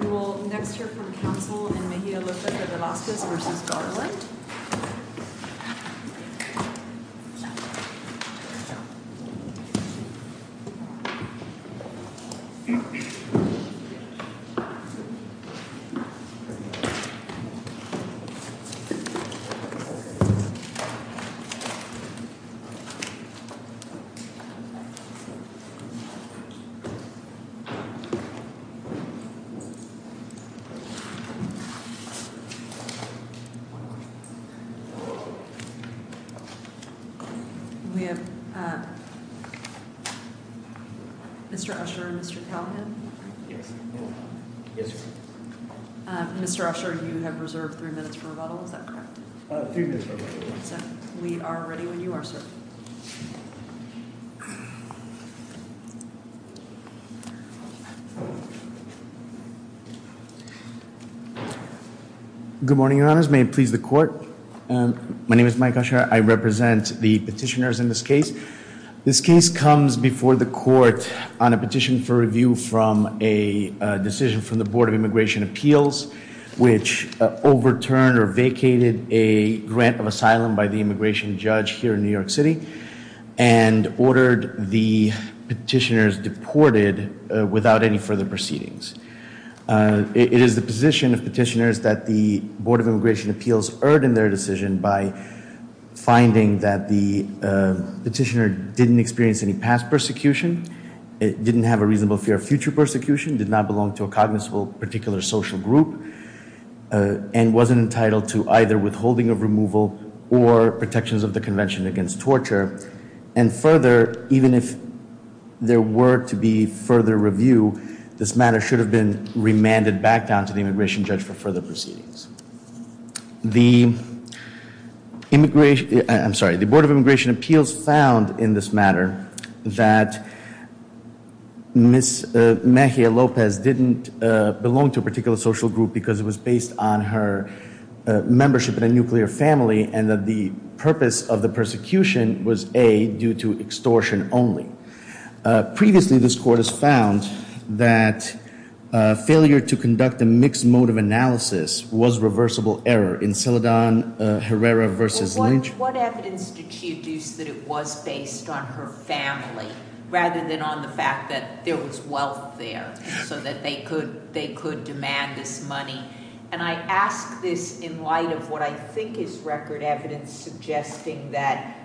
We will next hear from counsel in Mejia Lopez De Velasquez v. Garland. We have Mr. Usher and Mr. Callahan. Mr. Usher, you have reserved three minutes for rebuttal, is that correct? Three minutes for rebuttal. We are ready when you are, sir. Good morning, Your Honors. May it please the Court? My name is Mike Usher. I represent the petitioners in this case. This case comes before the Court on a petition for review from a decision from the Board of Immigration Appeals, which overturned or vacated a grant of asylum by the immigration judge here in New York City and ordered the petitioners deported without any further proceedings. It is the position of petitioners that the Board of Immigration Appeals erred in their decision by finding that the petitioner didn't experience any past persecution, didn't have a reasonable fear of future persecution, did not belong to a cognizable particular social group, and wasn't entitled to either withholding of removal or protections of the Convention Against Torture. And further, even if there were to be further review, this matter should have been remanded back down to the immigration judge for further proceedings. The Board of Immigration Appeals found in this matter that Ms. Mejia Lopez didn't belong to a particular social group because it was based on her membership in a nuclear family and that the purpose of the persecution was A, due to extortion only. Previously, this Court has found that failure to conduct a mixed mode of analysis was reversible error in Celedon Herrera v. Lynch. What evidence did she use that it was based on her family rather than on the fact that there was wealth there so that they could demand this money? And I ask this in light of what I think is record evidence suggesting that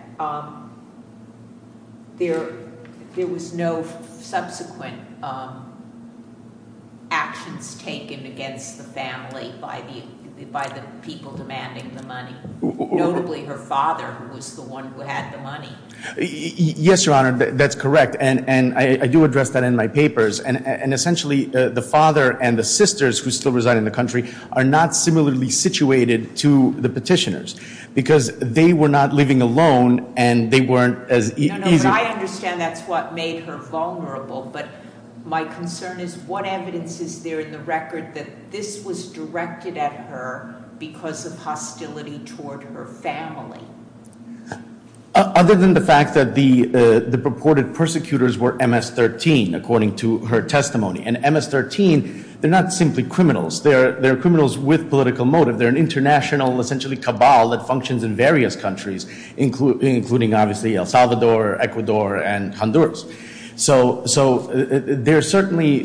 there was no subsequent actions taken against the family by the people demanding the money, notably her father, who was the one who had the money. Yes, Your Honor, that's correct. And I do address that in my papers. And essentially, the father and the sisters who still reside in the country are not similarly situated to the petitioners because they were not living alone and they weren't as easy... No, no, but I understand that's what made her vulnerable. But my concern is what evidence is there in the record that this was directed at her because of hostility toward her family? Other than the fact that the purported persecutors were MS-13, according to her testimony. And MS-13, they're not simply criminals. They're criminals with political motive. They're an international essentially cabal that functions in various countries, including obviously El Salvador, Ecuador, and Honduras. So there are certainly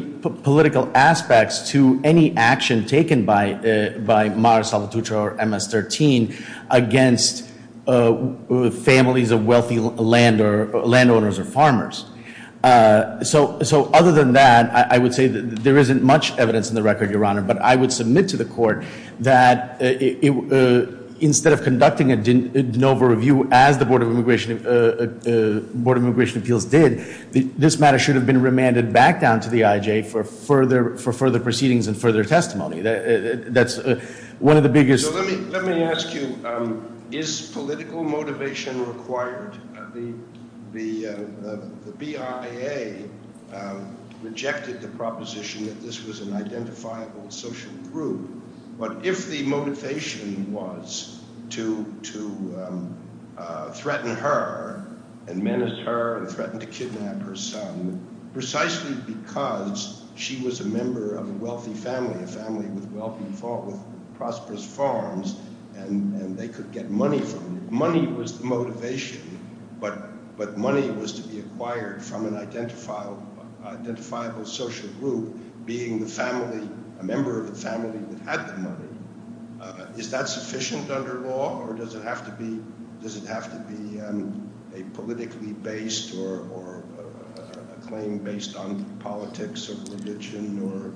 political aspects to any action taken by Mara Salvatrucha or MS-13 against families of wealthy landowners or farmers. So other than that, I would say that there isn't much evidence in the record, Your Honor. But I would submit to the court that instead of conducting a de novo review, as the Board of Immigration Appeals did, this matter should have been remanded back down to the IJ for further proceedings and further testimony. That's one of the biggest... So let me ask you, is political motivation required? The BIA rejected the proposition that this was an identifiable social group. But if the motivation was to threaten her and menace her and threaten to kidnap her son, precisely because she was a member of a wealthy family, a family with prosperous farms, and they could get money from it. Money was the motivation, but money was to be acquired from an identifiable social group being a member of a family that had the money. Is that sufficient under law, or does it have to be a politically based or a claim based on politics or religion or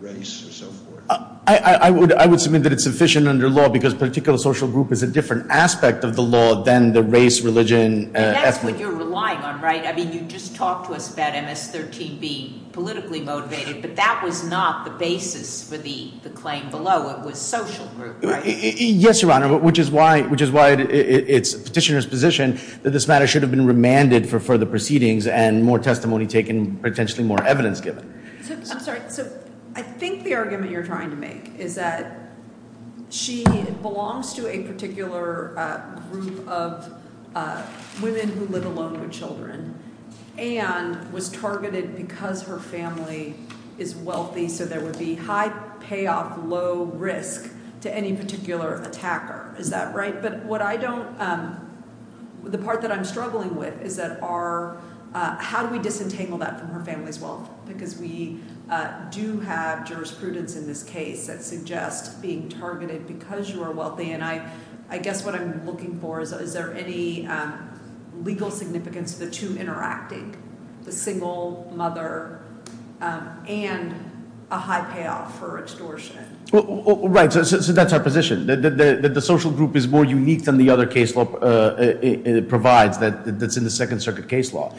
race or so forth? I would submit that it's sufficient under law, because a particular social group is a different aspect of the law than the race, religion, ethnic. That's what you're relying on, right? I mean, you just talked to us about MS-13 being politically motivated, but that was not the basis for the claim below. It was social group, right? Yes, Your Honor, which is why it's the petitioner's position that this matter should have been remanded for further proceedings and more testimony taken and potentially more evidence given. I'm sorry. So I think the argument you're trying to make is that she belongs to a particular group of women who live alone with children and was targeted because her family is wealthy, so there would be high payoff, low risk to any particular attacker. Is that right? But what I don't—the part that I'm struggling with is that our— we do have jurisprudence in this case that suggests being targeted because you are wealthy, and I guess what I'm looking for is, is there any legal significance to the two interacting, the single mother and a high payoff for extortion? Right. So that's our position, that the social group is more unique than the other case law provides that's in the Second Circuit case law.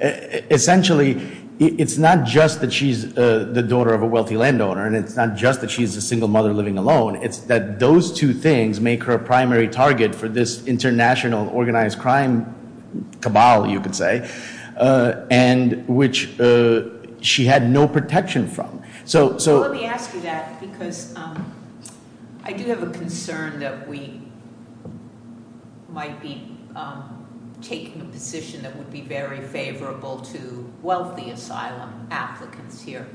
Essentially, it's not just that she's the daughter of a wealthy landowner and it's not just that she's a single mother living alone. It's that those two things make her a primary target for this international organized crime cabal, you could say, and which she had no protection from. Let me ask you that because I do have a concern that we might be taking a position that would be very favorable to wealthy asylum applicants here.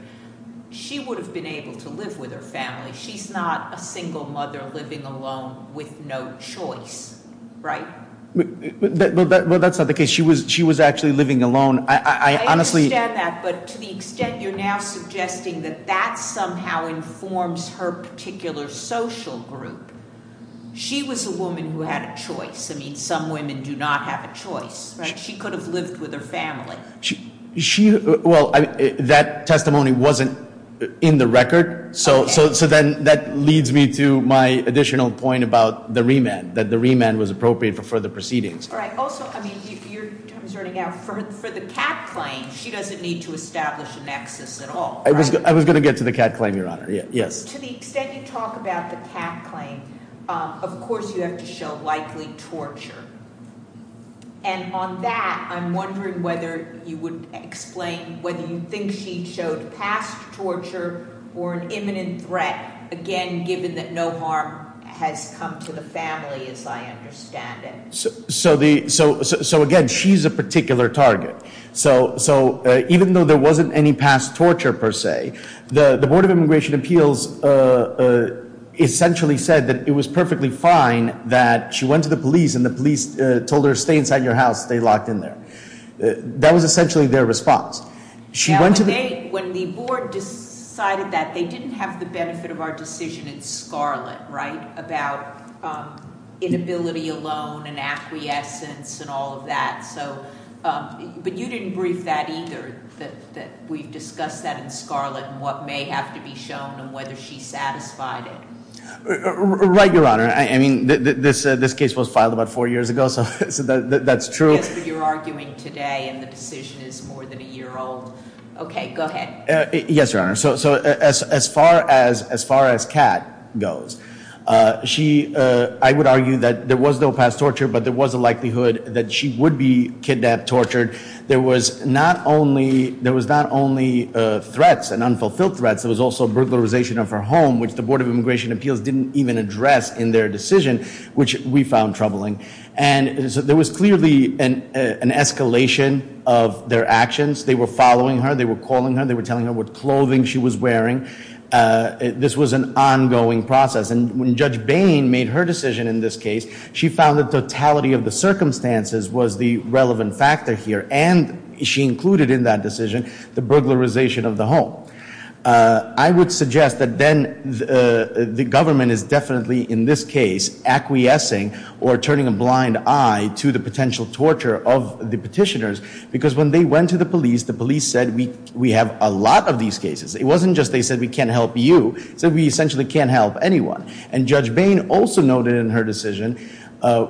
She would have been able to live with her family. She's not a single mother living alone with no choice, right? Well, that's not the case. She was actually living alone. I understand that, but to the extent you're now suggesting that that somehow informs her particular social group. She was a woman who had a choice. I mean, some women do not have a choice, right? She could have lived with her family. Well, that testimony wasn't in the record, so then that leads me to my additional point about the remand, that the remand was appropriate for further proceedings. All right. Also, I mean, your time is running out. For the CAD claim, she doesn't need to establish a nexus at all, right? I was going to get to the CAD claim, Your Honor. Yes. To the extent you talk about the CAD claim, of course you have to show likely torture. And on that, I'm wondering whether you would explain whether you think she showed past torture or an imminent threat, again, given that no harm has come to the family as I understand it. So, again, she's a particular target. So even though there wasn't any past torture per se, the Board of Immigration Appeals essentially said that it was perfectly fine that she went to the police and the police told her, stay inside your house, stay locked in there. That was essentially their response. When the board decided that, they didn't have the benefit of our decision in Scarlet, right, about inability alone and acquiescence and all of that. But you didn't brief that either, that we've discussed that in Scarlet and what may have to be shown and whether she satisfied it. Right, Your Honor. I mean, this case was filed about four years ago, so that's true. Yes, but you're arguing today and the decision is more than a year old. Okay, go ahead. Yes, Your Honor. So as far as Kat goes, I would argue that there was no past torture, but there was a likelihood that she would be kidnapped, tortured. There was not only threats and unfulfilled threats, there was also burglarization of her home, which the Board of Immigration Appeals didn't even address in their decision, which we found troubling. And so there was clearly an escalation of their actions. They were following her, they were calling her, they were telling her what clothing she was wearing. This was an ongoing process. And when Judge Bain made her decision in this case, she found the totality of the circumstances was the relevant factor here, and she included in that decision the burglarization of the home. I would suggest that then the government is definitely, in this case, acquiescing or turning a blind eye to the potential torture of the petitioners, because when they went to the police, the police said we have a lot of these cases. It wasn't just they said we can't help you. It said we essentially can't help anyone. And Judge Bain also noted in her decision,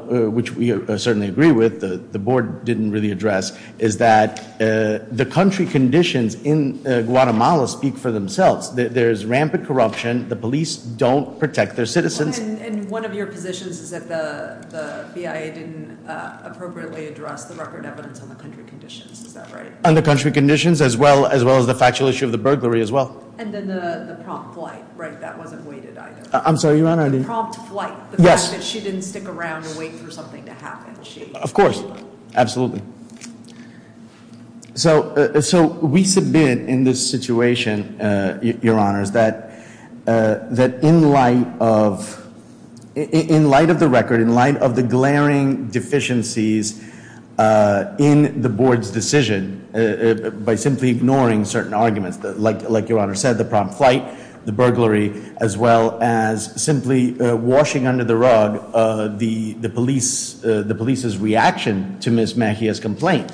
which we certainly agree with, the Board didn't really address, is that the country conditions in Guatemala speak for themselves. There is rampant corruption. The police don't protect their citizens. And one of your positions is that the BIA didn't appropriately address the record evidence on the country conditions. Is that right? On the country conditions as well as the factual issue of the burglary as well. And then the prompt flight, right? That wasn't weighted either. I'm sorry, Your Honor. The prompt flight, the fact that she didn't stick around and wait for something to happen. Of course. Absolutely. So we submit in this situation, Your Honors, that in light of the record, in light of the glaring deficiencies in the Board's decision by simply ignoring certain arguments, like Your Honor said, the prompt flight, the burglary, as well as simply washing under the rug the police's reaction to Ms. Mejia's complaint.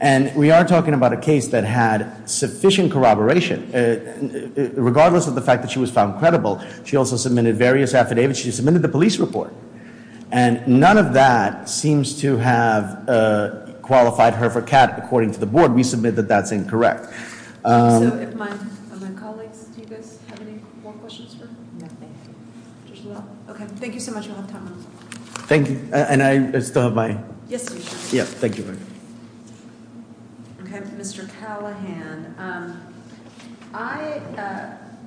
And we are talking about a case that had sufficient corroboration, regardless of the fact that she was found credible. She also submitted various affidavits. She submitted the police report. And none of that seems to have qualified her for cat, according to the Board. We submit that that's incorrect. So if my colleagues, do you guys have any more questions for me? No, thank you. Okay. Thank you so much. We'll have time. Thank you. And I still have my. Yes, you do. Yes. Thank you. Okay. Mr. Callahan, I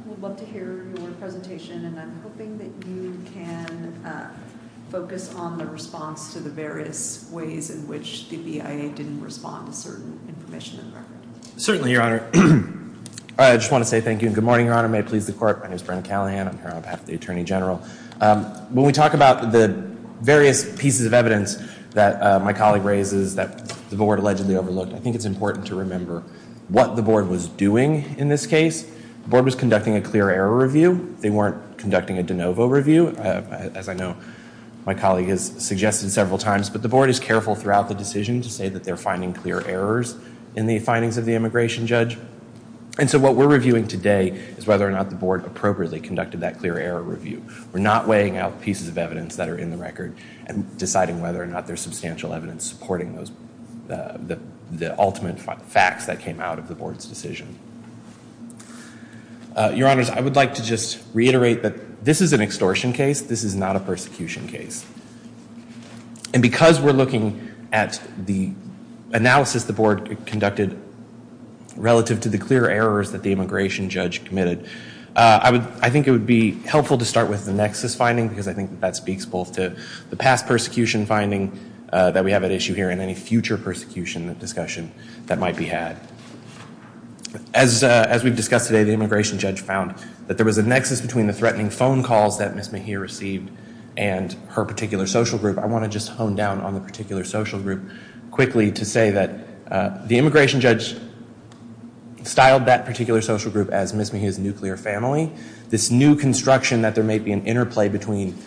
would love to hear your presentation, and I'm hoping that you can focus on the response to the various ways in which the BIA didn't respond to certain information in the record. Certainly, Your Honor. I just want to say thank you and good morning, Your Honor. May it please the Court. My name is Brennan Callahan. I'm here on behalf of the Attorney General. When we talk about the various pieces of evidence that my colleague raises that the Board allegedly overlooked, I think it's important to remember what the Board was doing in this case. The Board was conducting a clear error review. They weren't conducting a de novo review, as I know my colleague has suggested several times. But the Board is careful throughout the decision to say that they're finding clear errors in the findings of the immigration judge. And so what we're reviewing today is whether or not the Board appropriately conducted that clear error review. We're not weighing out pieces of evidence that are in the record and deciding whether or not there's substantial evidence supporting the ultimate facts that came out of the Board's decision. Your Honors, I would like to just reiterate that this is an extortion case. This is not a persecution case. And because we're looking at the analysis the Board conducted relative to the clear errors that the immigration judge committed, I think it would be helpful to start with the nexus finding, because I think that speaks both to the past persecution finding that we have at issue here and any future persecution discussion that might be had. As we've discussed today, the immigration judge found that there was a nexus between the threatening phone calls that Ms. Mejia received and her particular social group. I want to just hone down on the particular social group quickly to say that the immigration judge styled that particular social group as Ms. Mejia's nuclear family. This new construction that there may be an interplay between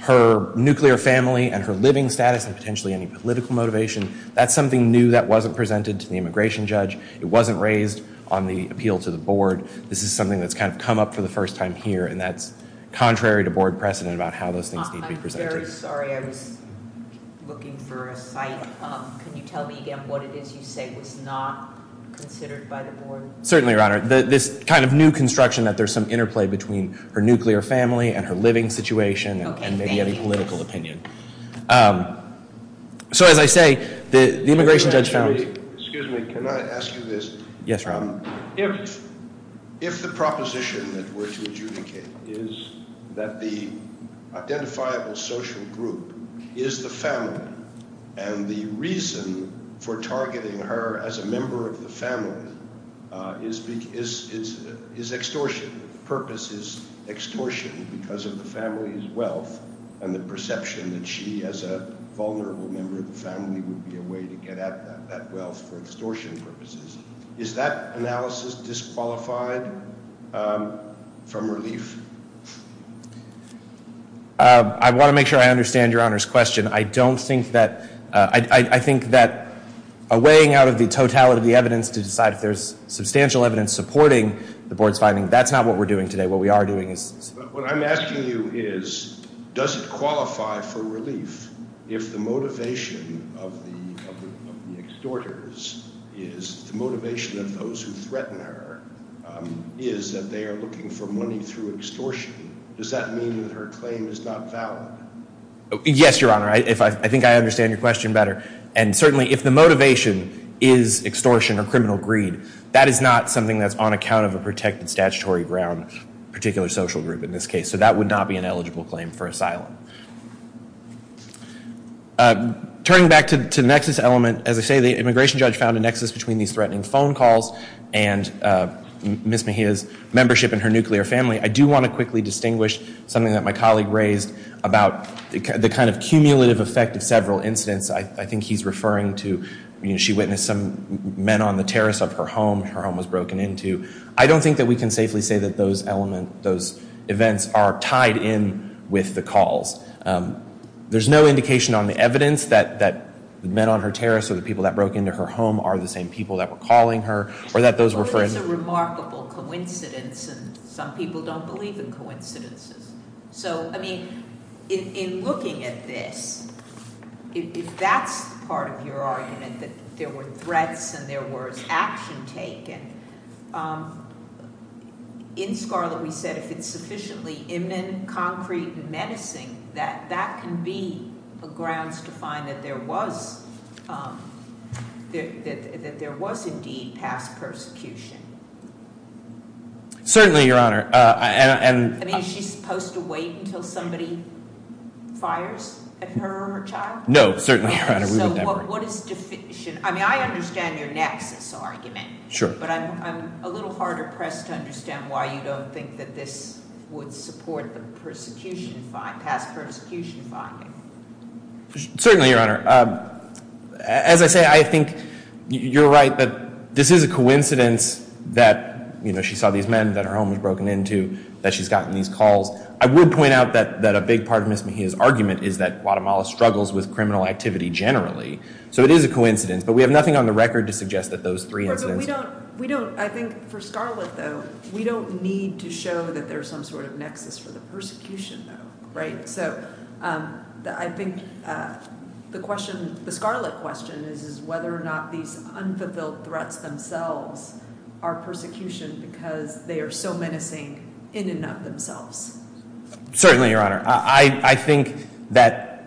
her nuclear family and her living status and potentially any political motivation, that's something new that wasn't presented to the immigration judge. It wasn't raised on the appeal to the Board. This is something that's kind of come up for the first time here, and that's contrary to Board precedent about how those things need to be presented. I'm very sorry. I was looking for a site. Can you tell me again what it is you say was not considered by the Board? Certainly, Your Honor. This kind of new construction that there's some interplay between her nuclear family and her living situation and maybe any political opinion. So as I say, the immigration judge found— Excuse me. Can I ask you this? Yes, Rob. If the proposition that we're to adjudicate is that the identifiable social group is the family and the reason for targeting her as a member of the family is extortion, the purpose is extortion because of the family's wealth and the perception that she, as a vulnerable member of the family, would be a way to get at that wealth for extortion purposes, is that analysis disqualified from relief? I want to make sure I understand Your Honor's question. I don't think that—I think that a weighing out of the totality of the evidence to decide if there's substantial evidence supporting the Board's finding, that's not what we're doing today. What we are doing is— What I'm asking you is does it qualify for relief if the motivation of the extorters is— the motivation of those who threaten her is that they are looking for money through extortion? Does that mean that her claim is not valid? Yes, Your Honor. I think I understand your question better. And certainly if the motivation is extortion or criminal greed, that is not something that's on account of a protected statutory ground, a particular social group in this case. So that would not be an eligible claim for asylum. Turning back to the nexus element, as I say the immigration judge found a nexus between these threatening phone calls and Ms. Mejia's membership in her nuclear family. I do want to quickly distinguish something that my colleague raised about the kind of cumulative effect of several incidents. I think he's referring to she witnessed some men on the terrace of her home, her home was broken into. I don't think that we can safely say that those elements, those events are tied in with the calls. There's no indication on the evidence that the men on her terrace or the people that broke into her home are the same people that were calling her or that those were friends. Well, it's a remarkable coincidence, and some people don't believe in coincidences. So, I mean, in looking at this, if that's part of your argument that there were threats and there was action taken, in Scarlet we said, if it's sufficiently imminent, concrete, and menacing, that that can be the grounds to find that there was indeed past persecution. Certainly, Your Honor. I mean, is she supposed to wait until somebody fires at her or her child? No, certainly, Your Honor. I mean, I understand your nexus argument, but I'm a little harder pressed to understand why you don't think that this would support the past persecution finding. Certainly, Your Honor. As I say, I think you're right that this is a coincidence that she saw these men, that her home was broken into, that she's gotten these calls. I would point out that a big part of Ms. Mejia's argument is that So it is a coincidence, but we have nothing on the record to suggest that those three incidents. We don't, I think for Scarlet, though, we don't need to show that there's some sort of nexus for the persecution, right? So I think the question, the Scarlet question, is whether or not these unfulfilled threats themselves are persecution because they are so menacing in and of themselves. Certainly, Your Honor. I think that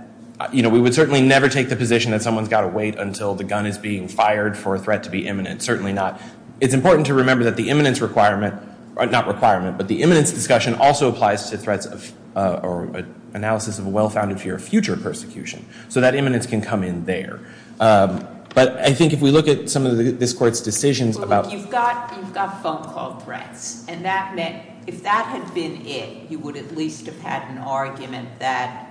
we would certainly never take the position that someone's got to wait until the gun is being fired for a threat to be imminent. Certainly not. It's important to remember that the imminence requirement, not requirement, but the imminence discussion also applies to threats or analysis of a well-founded fear of future persecution. So that imminence can come in there. But I think if we look at some of this Court's decisions about Well, look, you've got phone call threats, and that meant if that had been it, you would at least have had an argument that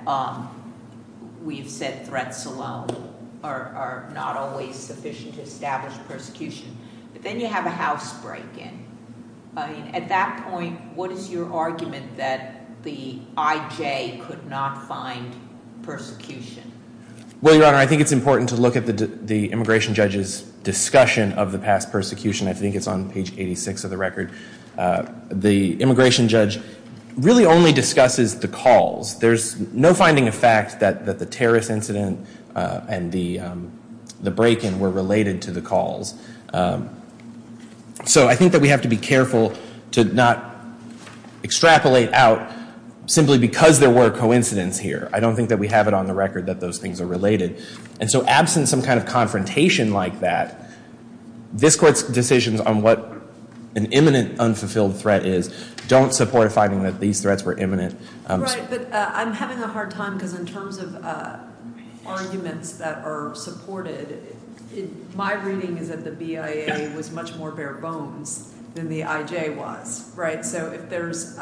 we've said threats alone are not always sufficient to establish persecution. But then you have a house break-in. At that point, what is your argument that the IJ could not find persecution? Well, Your Honor, I think it's important to look at the immigration judge's discussion of the past persecution. I think it's on page 86 of the record. The immigration judge really only discusses the calls. There's no finding of fact that the terrorist incident and the break-in were related to the calls. So I think that we have to be careful to not extrapolate out simply because there were coincidences here. I don't think that we have it on the record that those things are related. And so absent some kind of confrontation like that, this Court's decisions on what an imminent unfulfilled threat is don't support a finding that these threats were imminent. Right, but I'm having a hard time because in terms of arguments that are supported, my reading is that the BIA was much more bare-bones than the IJ was. So if there's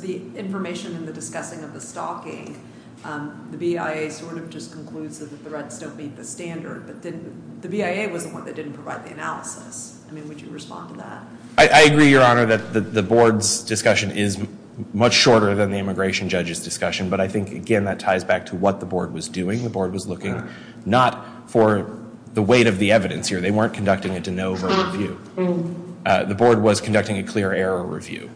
the information in the discussing of the stalking, the BIA sort of just concludes that the threats don't meet the standard. But the BIA was the one that didn't provide the analysis. I mean, would you respond to that? I agree, Your Honor, that the Board's discussion is much shorter than the immigration judge's discussion. But I think, again, that ties back to what the Board was doing. The Board was looking not for the weight of the evidence here. They weren't conducting a de novo review. The Board was conducting a clear error review.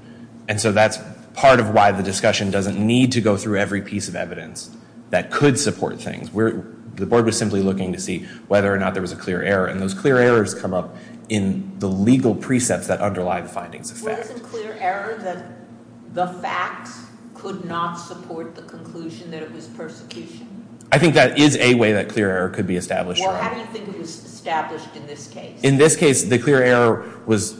And so that's part of why the discussion doesn't need to go through every piece of evidence that could support things. The Board was simply looking to see whether or not there was a clear error. And those clear errors come up in the legal precepts that underlie the findings of fact. I think that is a way that clear error could be established. Well, how do you think it was established in this case? In this case, the clear error was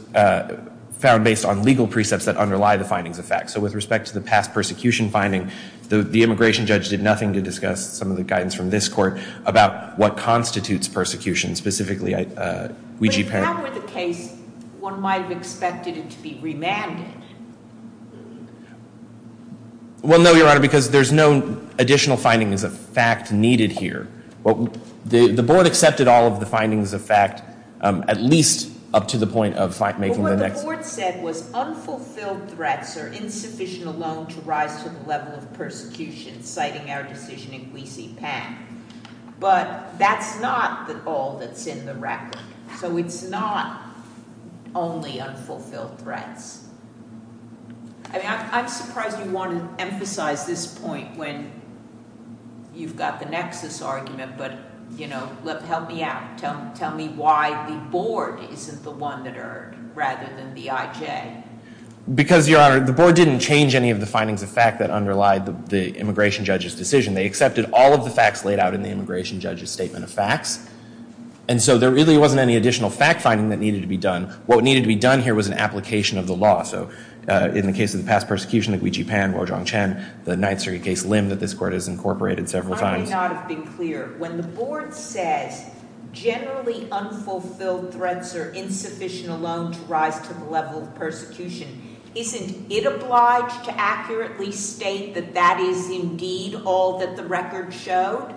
found based on legal precepts that underlie the findings of fact. So with respect to the past persecution finding, the immigration judge did nothing to discuss some of the guidance from this Court about what constitutes persecution, specifically Ouija Payne. But if that were the case, one might have expected it to be remanded. Well, no, Your Honor, because there's no additional findings of fact needed here. The Board accepted all of the findings of fact, at least up to the point of making the nexus. But what the Board said was unfulfilled threats are insufficient alone to rise to the level of persecution, citing our decision in Ouija Payne. But that's not all that's in the record. So it's not only unfulfilled threats. I mean, I'm surprised you want to emphasize this point when you've got the nexus argument. But, you know, help me out. Tell me why the Board isn't the one that erred rather than the IJ. Because, Your Honor, the Board didn't change any of the findings of fact that underlie the immigration judge's decision. They accepted all of the facts laid out in the immigration judge's statement of facts. And so there really wasn't any additional fact finding that needed to be done. What needed to be done here was an application of the law. So in the case of the past persecution, the Ouija Payne, Rojong Chen, the Ninth Circuit case, Lim, that this Court has incorporated several times. I may not have been clear. When the Board says generally unfulfilled threats are insufficient alone to rise to the level of persecution, isn't it obliged to accurately state that that is indeed all that the record showed?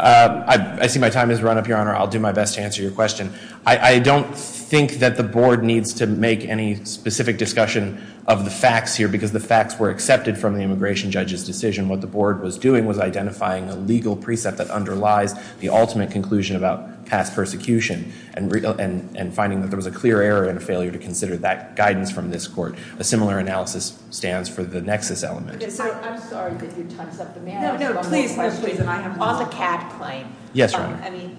I see my time has run up, Your Honor. I'll do my best to answer your question. I don't think that the Board needs to make any specific discussion of the facts here because the facts were accepted from the immigration judge's decision. What the Board was doing was identifying a legal precept that underlies the ultimate conclusion about past persecution and finding that there was a clear error and a failure to consider that guidance from this Court. A similar analysis stands for the nexus element. I'm sorry that you tons up the matter. No, no, please, please, please. On the CAD claim. Yes, Your Honor.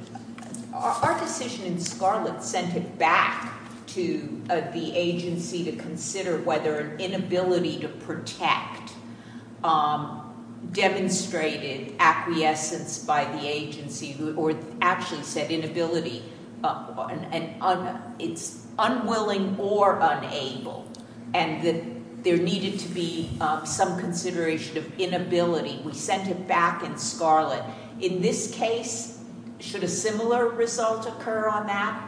Our decision in Scarlet sent it back to the agency to consider whether an inability to protect demonstrated acquiescence by the agency or actually said inability. It's unwilling or unable and that there needed to be some consideration of inability. We sent it back in Scarlet. In this case, should a similar result occur on that?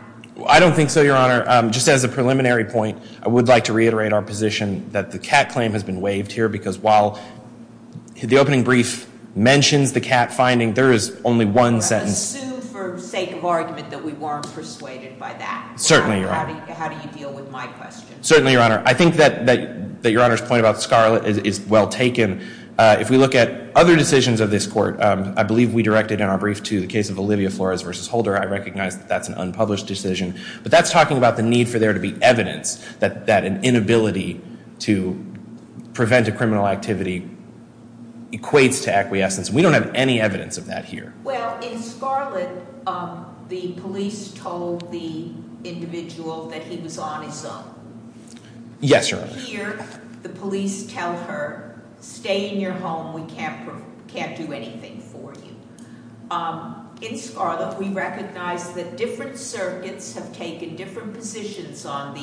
I don't think so, Your Honor. Just as a preliminary point, I would like to reiterate our position that the CAD claim has been waived here because while the opening brief mentions the CAD finding, there is only one sentence. I assume for sake of argument that we weren't persuaded by that. Certainly, Your Honor. How do you deal with my question? Certainly, Your Honor. I think that Your Honor's point about Scarlet is well taken. If we look at other decisions of this court, I believe we directed in our brief to the case of Olivia Flores versus Holder. I recognize that that's an unpublished decision, but that's talking about the need for there to be evidence that an inability to prevent a criminal activity equates to acquiescence. We don't have any evidence of that here. Well, in Scarlet, the police told the individual that he was on his own. Yes, Your Honor. And here, the police tell her, stay in your home. We can't do anything for you. In Scarlet, we recognize that different circuits have taken different positions on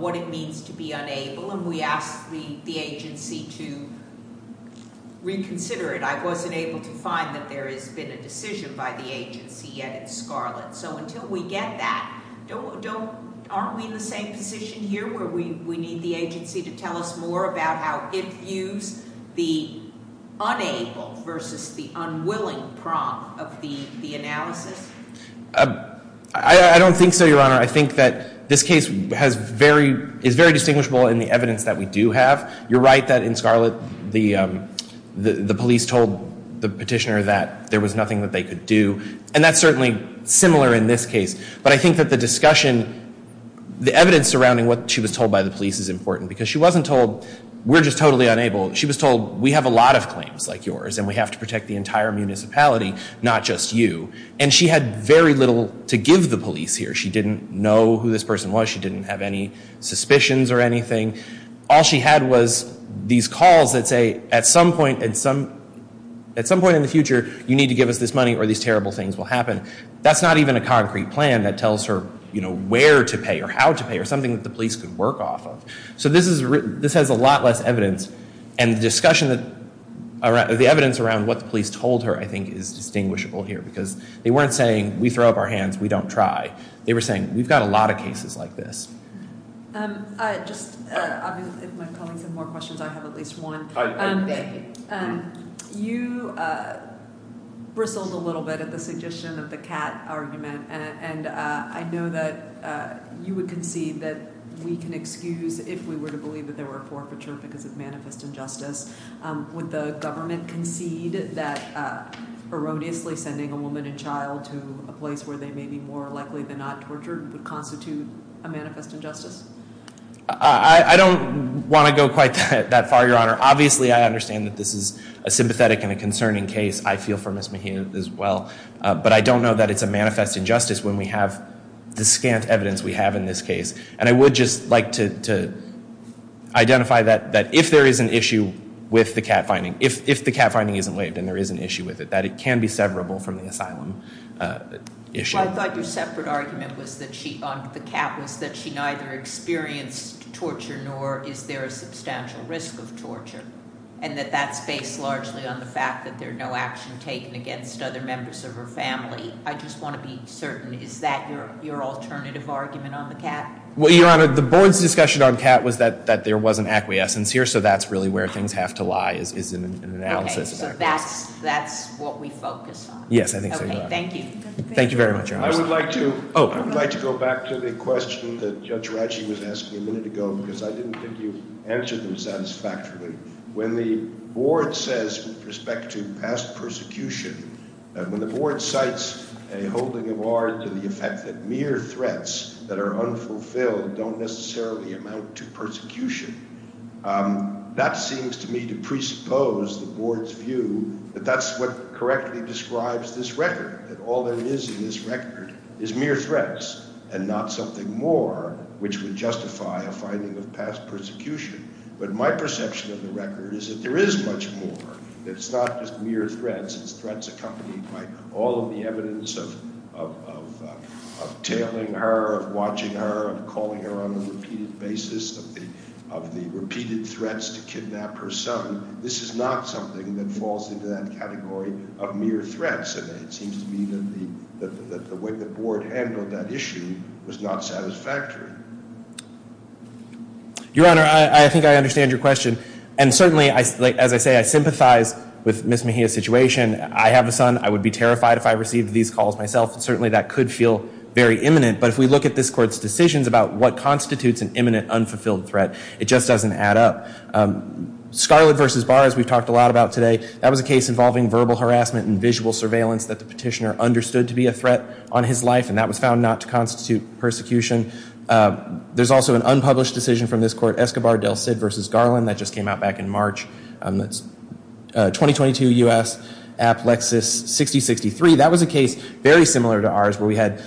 what it means to be unable, and we asked the agency to reconsider it. I wasn't able to find that there has been a decision by the agency yet in Scarlet. So until we get that, aren't we in the same position here where we need the agency to tell us more about how it views the unable versus the unwilling prompt of the analysis? I don't think so, Your Honor. I think that this case is very distinguishable in the evidence that we do have. You're right that in Scarlet, the police told the petitioner that there was nothing that they could do, and that's certainly similar in this case. But I think that the discussion, the evidence surrounding what she was told by the police is important because she wasn't told, we're just totally unable. She was told, we have a lot of claims like yours, and we have to protect the entire municipality, not just you. And she had very little to give the police here. She didn't know who this person was. She didn't have any suspicions or anything. All she had was these calls that say, at some point in the future, you need to give us this money or these terrible things will happen. That's not even a concrete plan that tells her where to pay or how to pay or something that the police could work off of. So this has a lot less evidence, and the discussion, the evidence around what the police told her, I think, is distinguishable here because they weren't saying, we throw up our hands, we don't try. They were saying, we've got a lot of cases like this. If my colleagues have more questions, I have at least one. You bristled a little bit at the suggestion of the cat argument, and I know that you would concede that we can excuse if we were to believe that there were a forfeiture because of manifest injustice. Would the government concede that erroneously sending a woman and child to a place where they may be more likely than not tortured would constitute a manifest injustice? I don't want to go quite that far, Your Honor. Obviously, I understand that this is a sympathetic and a concerning case. I feel for Ms. Mahina as well. But I don't know that it's a manifest injustice when we have the scant evidence we have in this case. And I would just like to identify that if there is an issue with the cat finding, if the cat finding isn't waived and there is an issue with it, that it can be severable from the asylum issue. Well, I thought your separate argument on the cat was that she neither experienced torture nor is there a substantial risk of torture, and that that's based largely on the fact that there's no action taken against other members of her family. I just want to be certain. Is that your alternative argument on the cat? Well, Your Honor, the board's discussion on the cat was that there was an acquiescence here, so that's really where things have to lie is in an analysis. So that's what we focus on? Yes, I think so, Your Honor. Okay, thank you. Thank you very much, Your Honor. I would like to go back to the question that Judge Ratchie was asking a minute ago because I didn't think you answered them satisfactorily. When the board says with respect to past persecution, when the board cites a holding of art to the effect that mere threats that are unfulfilled don't necessarily amount to persecution, that seems to me to presuppose the board's view that that's what correctly describes this record, that all there is in this record is mere threats and not something more which would justify a finding of past persecution. But my perception of the record is that there is much more. It's not just mere threats. It's threats accompanied by all of the evidence of tailing her, of watching her, of calling her on a repeated basis, of the repeated threats to kidnap her son. This is not something that falls into that category of mere threats, and it seems to me that the way the board handled that issue was not satisfactory. Your Honor, I think I understand your question. And certainly, as I say, I sympathize with Ms. Mejia's situation. I have a son. I would be terrified if I received these calls myself, and certainly that could feel very imminent. But if we look at this court's decisions about what constitutes an imminent unfulfilled threat, it just doesn't add up. Scarlett v. Barr, as we've talked a lot about today, that was a case involving verbal harassment and visual surveillance that the petitioner understood to be a threat on his life, and that was found not to constitute persecution. There's also an unpublished decision from this court, Escobar del Cid v. Garland. That just came out back in March. That's 2022 U.S. Applexus 6063. That was a case very similar to ours where we had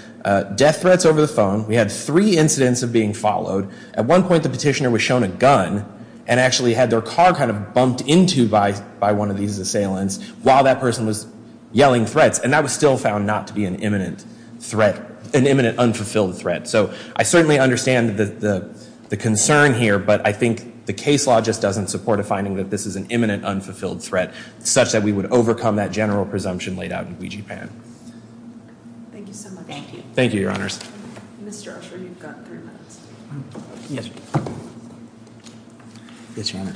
death threats over the phone. We had three incidents of being followed. At one point, the petitioner was shown a gun and actually had their car kind of bumped into by one of these assailants while that person was yelling threats, and that was still found not to be an imminent threat, an imminent unfulfilled threat. So I certainly understand the concern here, but I think the case law just doesn't support a finding that this is an imminent unfulfilled threat such that we would overcome that general presumption laid out in Ouija Pan. Thank you so much. Thank you. Thank you, Your Honors. Mr. Usher, you've got three minutes. Yes, Your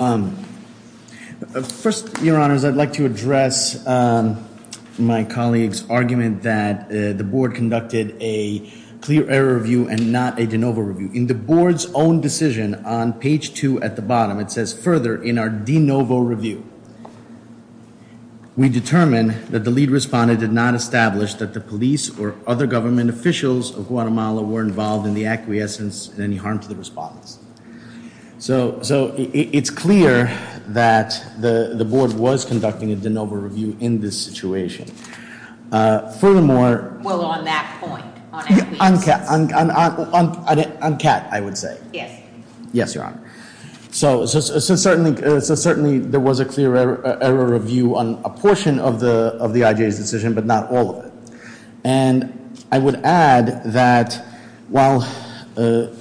Honors. First, Your Honors, I'd like to address my colleague's argument that the board conducted a clear error review and not a de novo review. In the board's own decision on page 2 at the bottom, it says, further, in our de novo review, we determine that the lead respondent did not establish that the police or other government officials of Guatemala were involved in the acquiescence and any harm to the respondents. So it's clear that the board was conducting a de novo review in this situation. Furthermore, Well, on that point, on acquiescence. On CAT, I would say. Yes. Yes, Your Honor. So certainly there was a clear error review on a portion of the IJA's decision, but not all of it. And I would add that while the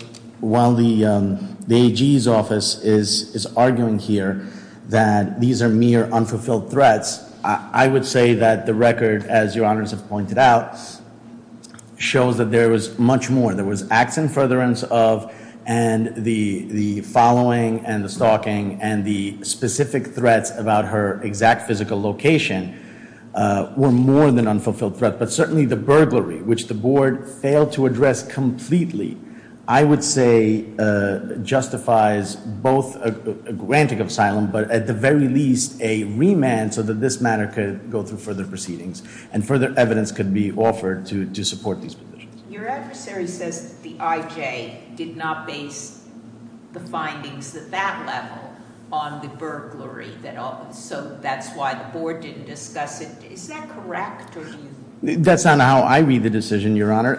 AG's office is arguing here that these are mere unfulfilled threats, I would say that the record, as Your Honors have pointed out, shows that there was much more. There was acts in furtherance of and the following and the stalking and the specific threats about her exact physical location were more than unfulfilled threats. But certainly the burglary, which the board failed to address completely, I would say justifies both a granting of asylum, but at the very least a remand so that this matter could go through further proceedings and further evidence could be offered to support these people. Your adversary says that the IJA did not base the findings at that level on the burglary, so that's why the board didn't discuss it. Is that correct? That's not how I read the decision, Your Honor.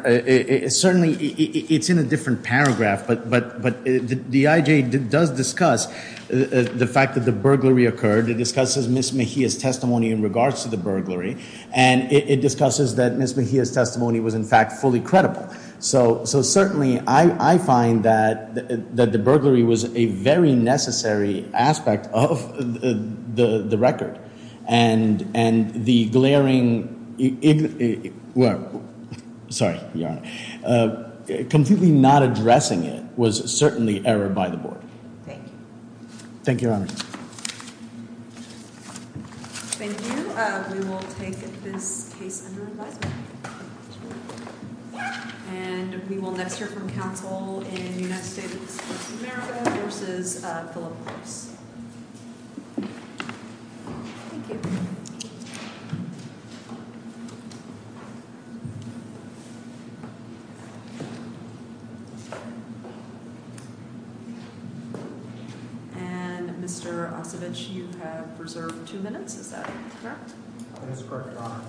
Certainly it's in a different paragraph, but the IJA does discuss the fact that the burglary occurred. It discusses Ms. Mejia's testimony in regards to the burglary, and it discusses that Ms. Mejia's testimony was, in fact, fully credible. So certainly I find that the burglary was a very necessary aspect of the record, and the glaring, well, sorry, Your Honor, completely not addressing it was certainly error by the board. Thank you. Thank you, Your Honor. Thank you. We will take this case under advisement. And we will next hear from counsel in the United States of America versus Philip Gross. Thank you. Thank you. And Mr. Ossovitch, you have reserved two minutes. Is that correct? That is correct, Your Honor.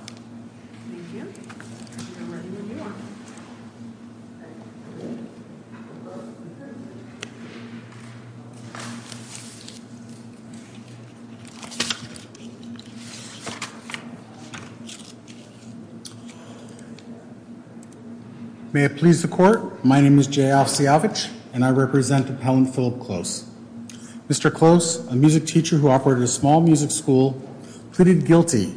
Thank you. Thank you, Your Honor. May it please the Court, my name is Jay Ossovitch, and I represent Appellant Philip Gross. Mr. Gross, a music teacher who operated a small music school, pleaded guilty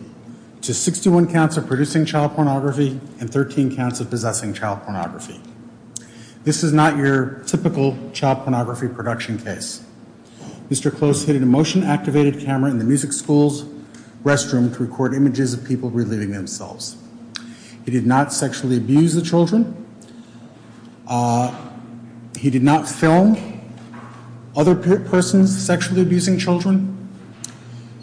to 61 counts of producing child pornography and 13 counts of possessing child pornography. This is not your typical child pornography production case. Mr. Gross hid an emotion-activated camera in the music school's restroom to record images of people relieving themselves. He did not sexually abuse the children. He did not film other persons sexually abusing children.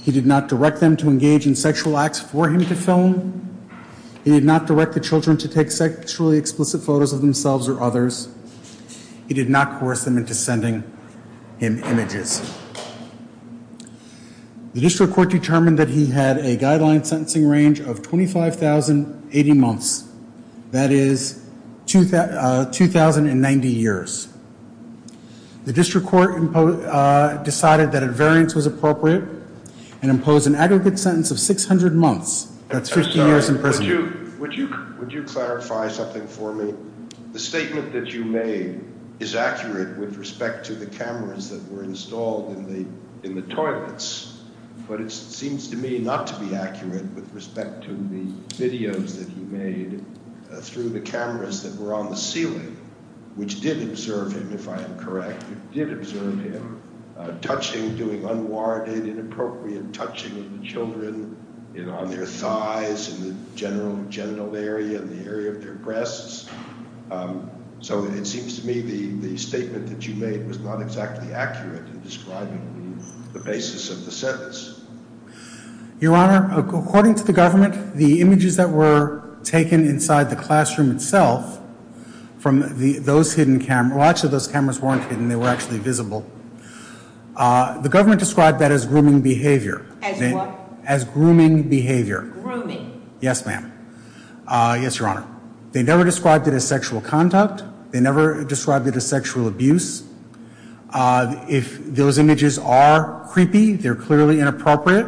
He did not direct them to engage in sexual acts for him to film. He did not direct the children to take sexually explicit photos of themselves or others. He did not coerce them into sending him images. The district court determined that he had a guideline sentencing range of 25,080 months, that is 2,090 years. The district court decided that a variance was appropriate and imposed an aggregate sentence of 600 months, that's 50 years in prison. Would you clarify something for me? The statement that you made is accurate with respect to the cameras that were installed in the toilets, but it seems to me not to be accurate with respect to the videos that you made through the cameras that were on the ceiling, which did observe him, if I am correct, it did observe him, touching, doing unwarranted, inappropriate touching of the children on their thighs and the general genital area and the area of their breasts. So it seems to me the statement that you made was not exactly accurate in describing the basis of the sentence. Your Honor, according to the government, the images that were taken inside the classroom itself from those hidden cameras, well, actually those cameras weren't hidden, they were actually visible. The government described that as grooming behavior. As what? As grooming behavior. Grooming. Yes, ma'am. Yes, Your Honor. They never described it as sexual conduct. They never described it as sexual abuse. If those images are creepy, they're clearly inappropriate,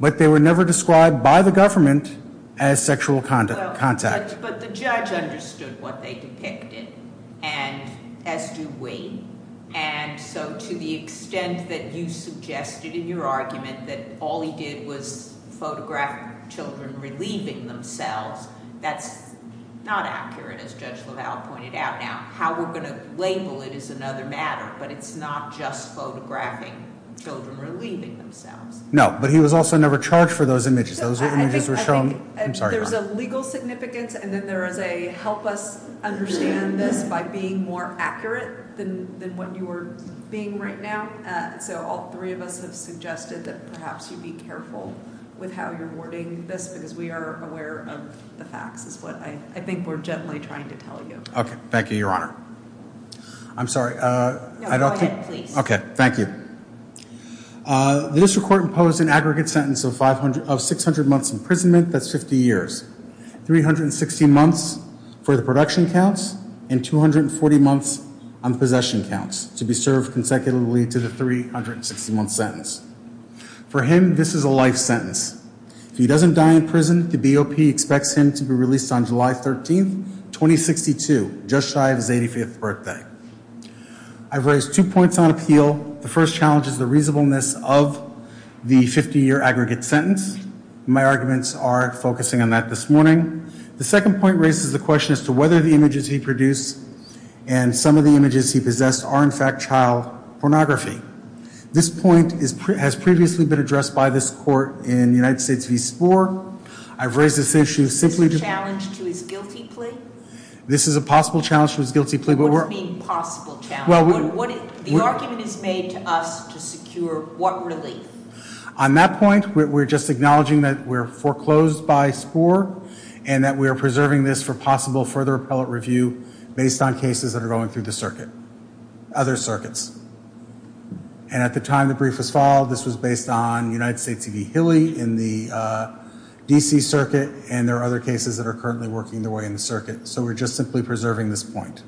but they were never described by the government as sexual contact. But the judge understood what they depicted, as do we, and so to the extent that you suggested in your argument that all he did was photograph children relieving themselves, that's not accurate, as Judge LaValle pointed out. Now, how we're going to label it is another matter, but it's not just photographing children relieving themselves. No, but he was also never charged for those images. There's a legal significance, and then there is a help us understand this by being more accurate than what you are being right now, so all three of us have suggested that perhaps you be careful with how you're wording this because we are aware of the facts is what I think we're generally trying to tell you. Okay, thank you, Your Honor. I'm sorry. No, go ahead, please. Okay, thank you. The district court imposed an aggregate sentence of 600 months imprisonment. That's 50 years. 360 months for the production counts and 240 months on possession counts to be served consecutively to the 360-month sentence. For him, this is a life sentence. If he doesn't die in prison, the BOP expects him to be released on July 13, 2062, just shy of his 85th birthday. I've raised two points on appeal. The first challenge is the reasonableness of the 50-year aggregate sentence. My arguments are focusing on that this morning. The second point raises the question as to whether the images he produced and some of the images he possessed are, in fact, child pornography. This point has previously been addressed by this court in United States v. Spore. I've raised this issue simply to... Is this a challenge to his guilty plea? This is a possible challenge to his guilty plea. What do you mean possible challenge? The argument is made to us to secure what relief? On that point, we're just acknowledging that we're foreclosed by Spore and that we are preserving this for possible further appellate review based on cases that are going through the circuit, other circuits. And at the time the brief was filed, this was based on United States v. Hilly in the D.C. circuit, and there are other cases that are currently working their way in the circuit. So we're just simply preserving this point.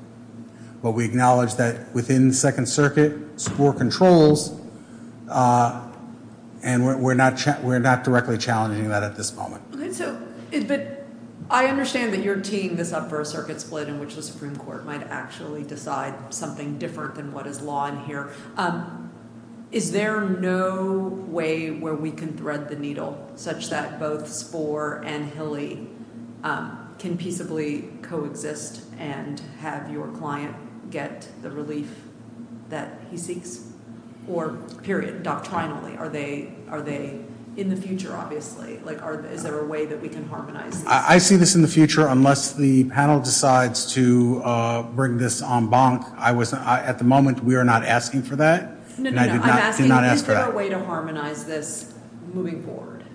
But we acknowledge that within the Second Circuit, Spore controls, and we're not directly challenging that at this moment. But I understand that you're teeing this up for a circuit split in which the Supreme Court might actually decide something different than what is law in here. Is there no way where we can thread the needle such that both Spore and Hilly can peaceably coexist and have your client get the relief that he seeks? Or, period, doctrinally, are they in the future, obviously? Is there a way that we can harmonize this? I see this in the future unless the panel decides to bring this en banc. At the moment, we are not asking for that. No, no, no, I'm asking is there a way to harmonize this moving forward?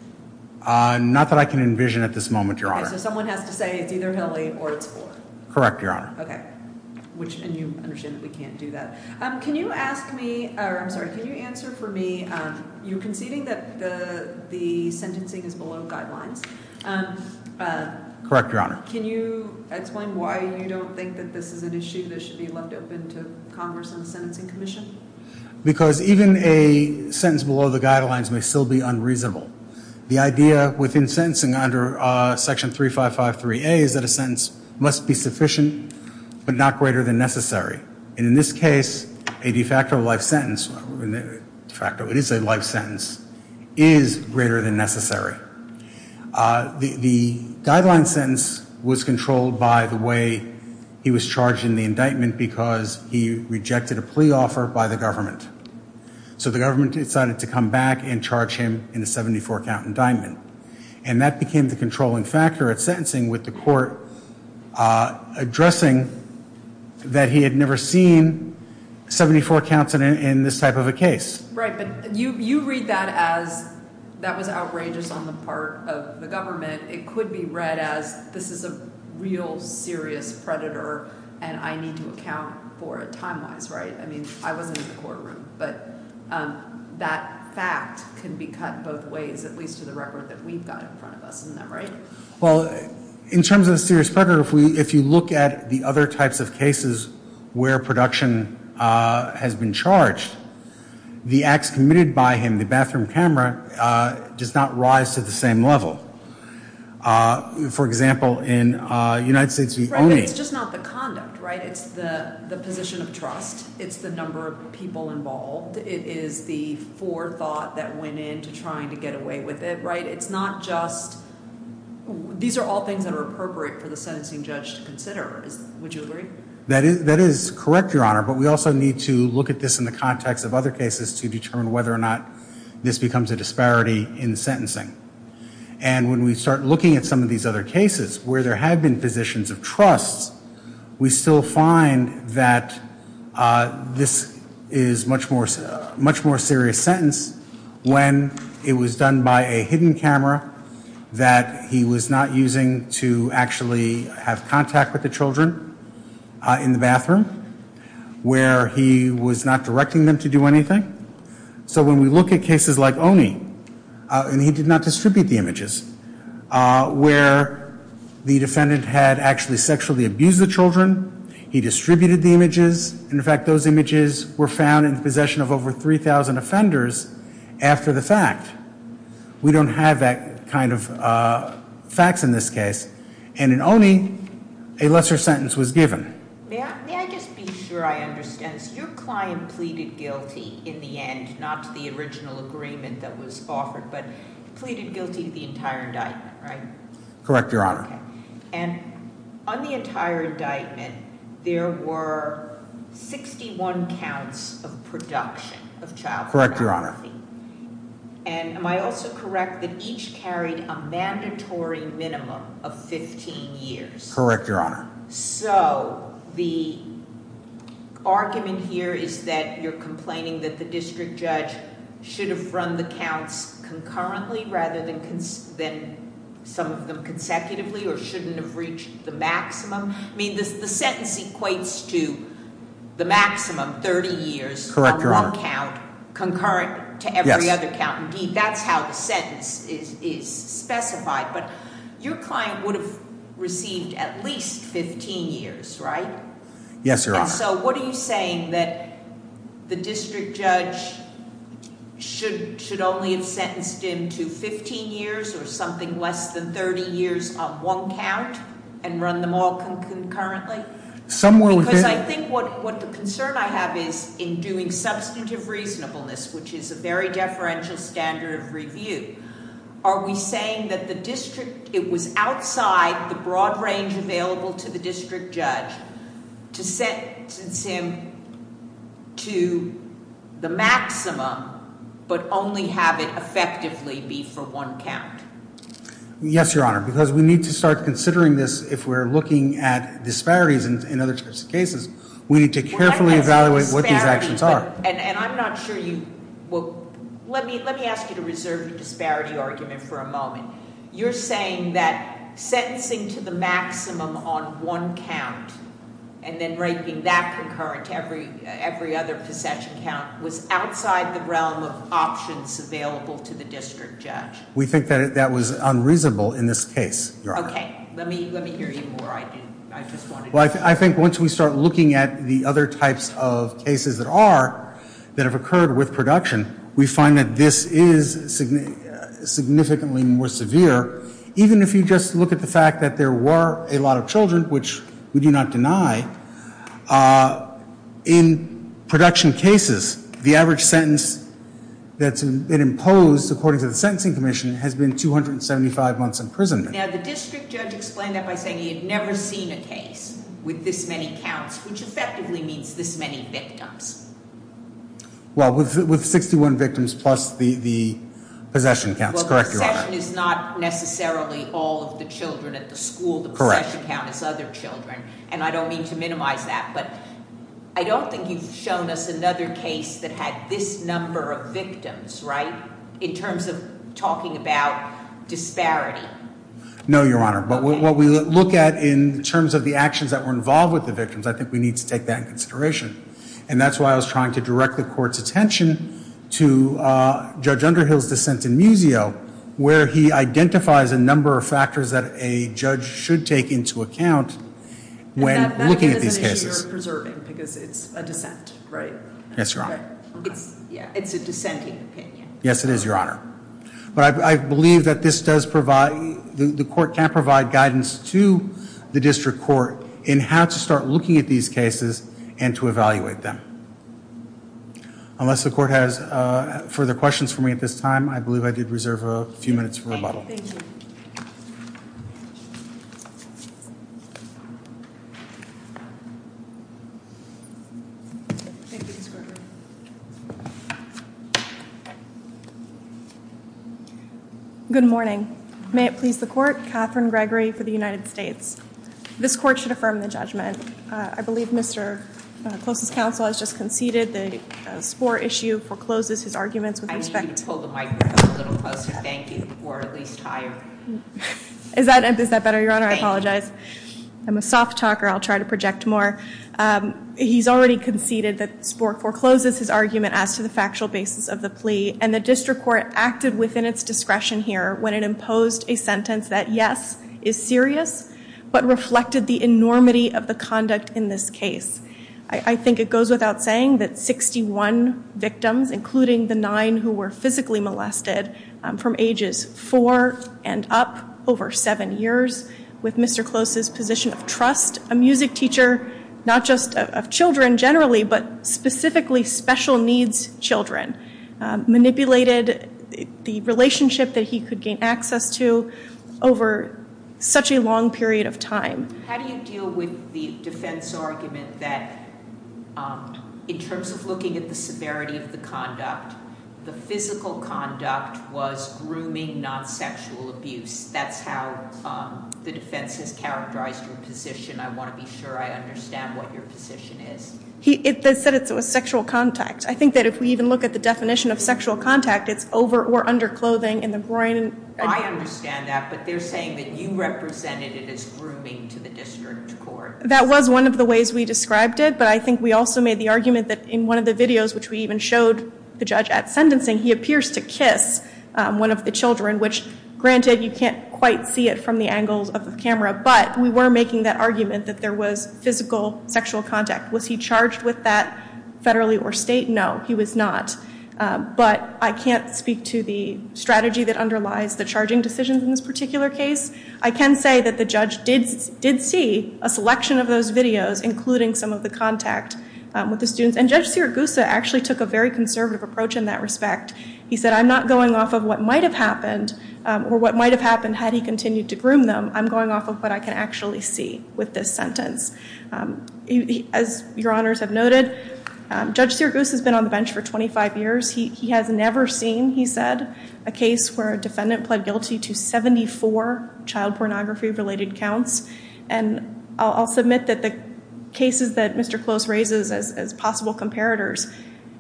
Not that I can envision at this moment, Your Honor. Okay, so someone has to say it's either Hilly or it's Spore. Correct, Your Honor. Okay, and you understand that we can't do that. Can you ask me, or I'm sorry, can you answer for me, you're conceding that the sentencing is below guidelines. Correct, Your Honor. Can you explain why you don't think that this is an issue that should be left open to Congress and the Sentencing Commission? Because even a sentence below the guidelines may still be unreasonable. The idea within sentencing under Section 3553A is that a sentence must be sufficient but not greater than necessary. And in this case, a de facto life sentence is greater than necessary. The guideline sentence was controlled by the way he was charged in the indictment because he rejected a plea offer by the government. So the government decided to come back and charge him in a 74-count indictment. And that became the controlling factor at sentencing with the court addressing that he had never seen 74 counts in this type of a case. Right, but you read that as that was outrageous on the part of the government. It could be read as this is a real serious predator, and I need to account for it time-wise, right? I mean, I wasn't in the courtroom, but that fact can be cut both ways, at least to the record that we've got in front of us, isn't that right? Well, in terms of a serious predator, if you look at the other types of cases where production has been charged, the acts committed by him, the bathroom camera, does not rise to the same level. For example, in the United States, we only— Right, but it's just not the conduct, right? It's the position of trust. It's the number of people involved. It is the forethought that went into trying to get away with it, right? It's not just—these are all things that are appropriate for the sentencing judge to consider. Would you agree? That is correct, Your Honor, but we also need to look at this in the context of other cases to determine whether or not this becomes a disparity in sentencing. And when we start looking at some of these other cases where there have been positions of trust, we still find that this is a much more serious sentence when it was done by a hidden camera that he was not using to actually have contact with the children in the bathroom, where he was not directing them to do anything. So when we look at cases like Oney, and he did not distribute the images, where the defendant had actually sexually abused the children, he distributed the images. In fact, those images were found in possession of over 3,000 offenders after the fact. We don't have that kind of facts in this case. And in Oney, a lesser sentence was given. May I just be sure I understand? So your client pleaded guilty in the end, not to the original agreement that was offered, but pleaded guilty to the entire indictment, right? Correct, Your Honor. And on the entire indictment, there were 61 counts of production of child pornography. Correct, Your Honor. And am I also correct that each carried a mandatory minimum of 15 years? Correct, Your Honor. So the argument here is that you're complaining that the district judge should have run the counts concurrently rather than some of them consecutively, or shouldn't have reached the maximum? I mean, the sentence equates to the maximum, 30 years- Correct, Your Honor. On one count, concurrent to every other count. Indeed, that's how the sentence is specified. But your client would have received at least 15 years, right? Yes, Your Honor. So what are you saying? That the district judge should only have sentenced him to 15 years or something less than 30 years on one count and run them all concurrently? Somewhere within- Because I think what the concern I have is in doing substantive reasonableness, which is a very deferential standard of review, are we saying that it was outside the broad range available to the district judge to sentence him to the maximum but only have it effectively be for one count? Yes, Your Honor, because we need to start considering this if we're looking at disparities in other types of cases. We need to carefully evaluate what these actions are. And I'm not sure you... Let me ask you to reserve the disparity argument for a moment. You're saying that sentencing to the maximum on one count and then breaking that concurrent to every other possession count was outside the realm of options available to the district judge? We think that that was unreasonable in this case, Your Honor. Well, I think once we start looking at the other types of cases that are, that have occurred with production, we find that this is significantly more severe. Even if you just look at the fact that there were a lot of children, which we do not deny, in production cases, the average sentence that's been imposed according to the Sentencing Commission has been 275 months imprisonment. Now, the district judge explained that by saying he had never seen a case with this many counts, which effectively means this many victims. Well, with 61 victims plus the possession counts, correct, Your Honor? Well, possession is not necessarily all of the children at the school. Correct. The possession count is other children, and I don't mean to minimize that. But I don't think you've shown us another case that had this number of victims, right, in terms of talking about disparity. No, Your Honor. But what we look at in terms of the actions that were involved with the victims, I think we need to take that into consideration. And that's why I was trying to direct the Court's attention to Judge Underhill's dissent in Muzio, where he identifies a number of factors that a judge should take into account when looking at these cases. And that isn't an issue you're preserving, because it's a dissent, right? Yes, Your Honor. It's a dissenting opinion. Yes, it is, Your Honor. But I believe that the Court can provide guidance to the District Court in how to start looking at these cases and to evaluate them. Unless the Court has further questions for me at this time, I believe I did reserve a few minutes for rebuttal. Thank you. Thank you, Mr. Gregory. Good morning. May it please the Court. Catherine Gregory for the United States. This Court should affirm the judgment. I believe Mr. Clos' counsel has just conceded the spore issue forecloses his arguments with respect to the court. I need you to hold the microphone a little closer. Thank you. Or at least higher. Is that better, Your Honor? Thank you. I apologize. I'm a soft talker. I'll try to project more. He's already conceded that the spore forecloses his argument as to the factual basis of the plea. And the District Court acted within its discretion here when it imposed a sentence that, yes, is serious, but reflected the enormity of the conduct in this case. I think it goes without saying that 61 victims, including the nine who were physically molested from ages four and up, over seven years, with Mr. Clos' position of trust, a music teacher, not just of children generally, but specifically special needs children, manipulated the relationship that he could gain access to over such a long period of time. How do you deal with the defense argument that, in terms of looking at the severity of the conduct, the physical conduct was grooming, not sexual abuse? That's how the defense has characterized your position. I want to be sure I understand what your position is. They said it was sexual contact. I think that if we even look at the definition of sexual contact, it's over or under clothing in the groin. I understand that, but they're saying that you represented it as grooming to the District Court. That was one of the ways we described it, but I think we also made the argument that in one of the videos, which we even showed the judge at sentencing, he appears to kiss one of the children, which, granted, you can't quite see it from the angles of the camera, but we were making that argument that there was physical sexual contact. Was he charged with that federally or state? No, he was not. But I can't speak to the strategy that underlies the charging decisions in this particular case. I can say that the judge did see a selection of those videos, including some of the contact with the students. And Judge Sirigusa actually took a very conservative approach in that respect. He said, I'm not going off of what might have happened, or what might have happened had he continued to groom them. I'm going off of what I can actually see with this sentence. As your honors have noted, Judge Sirigusa has been on the bench for 25 years. He has never seen, he said, a case where a defendant pled guilty to 74 child pornography-related counts. And I'll submit that the cases that Mr. Close raises as possible comparators,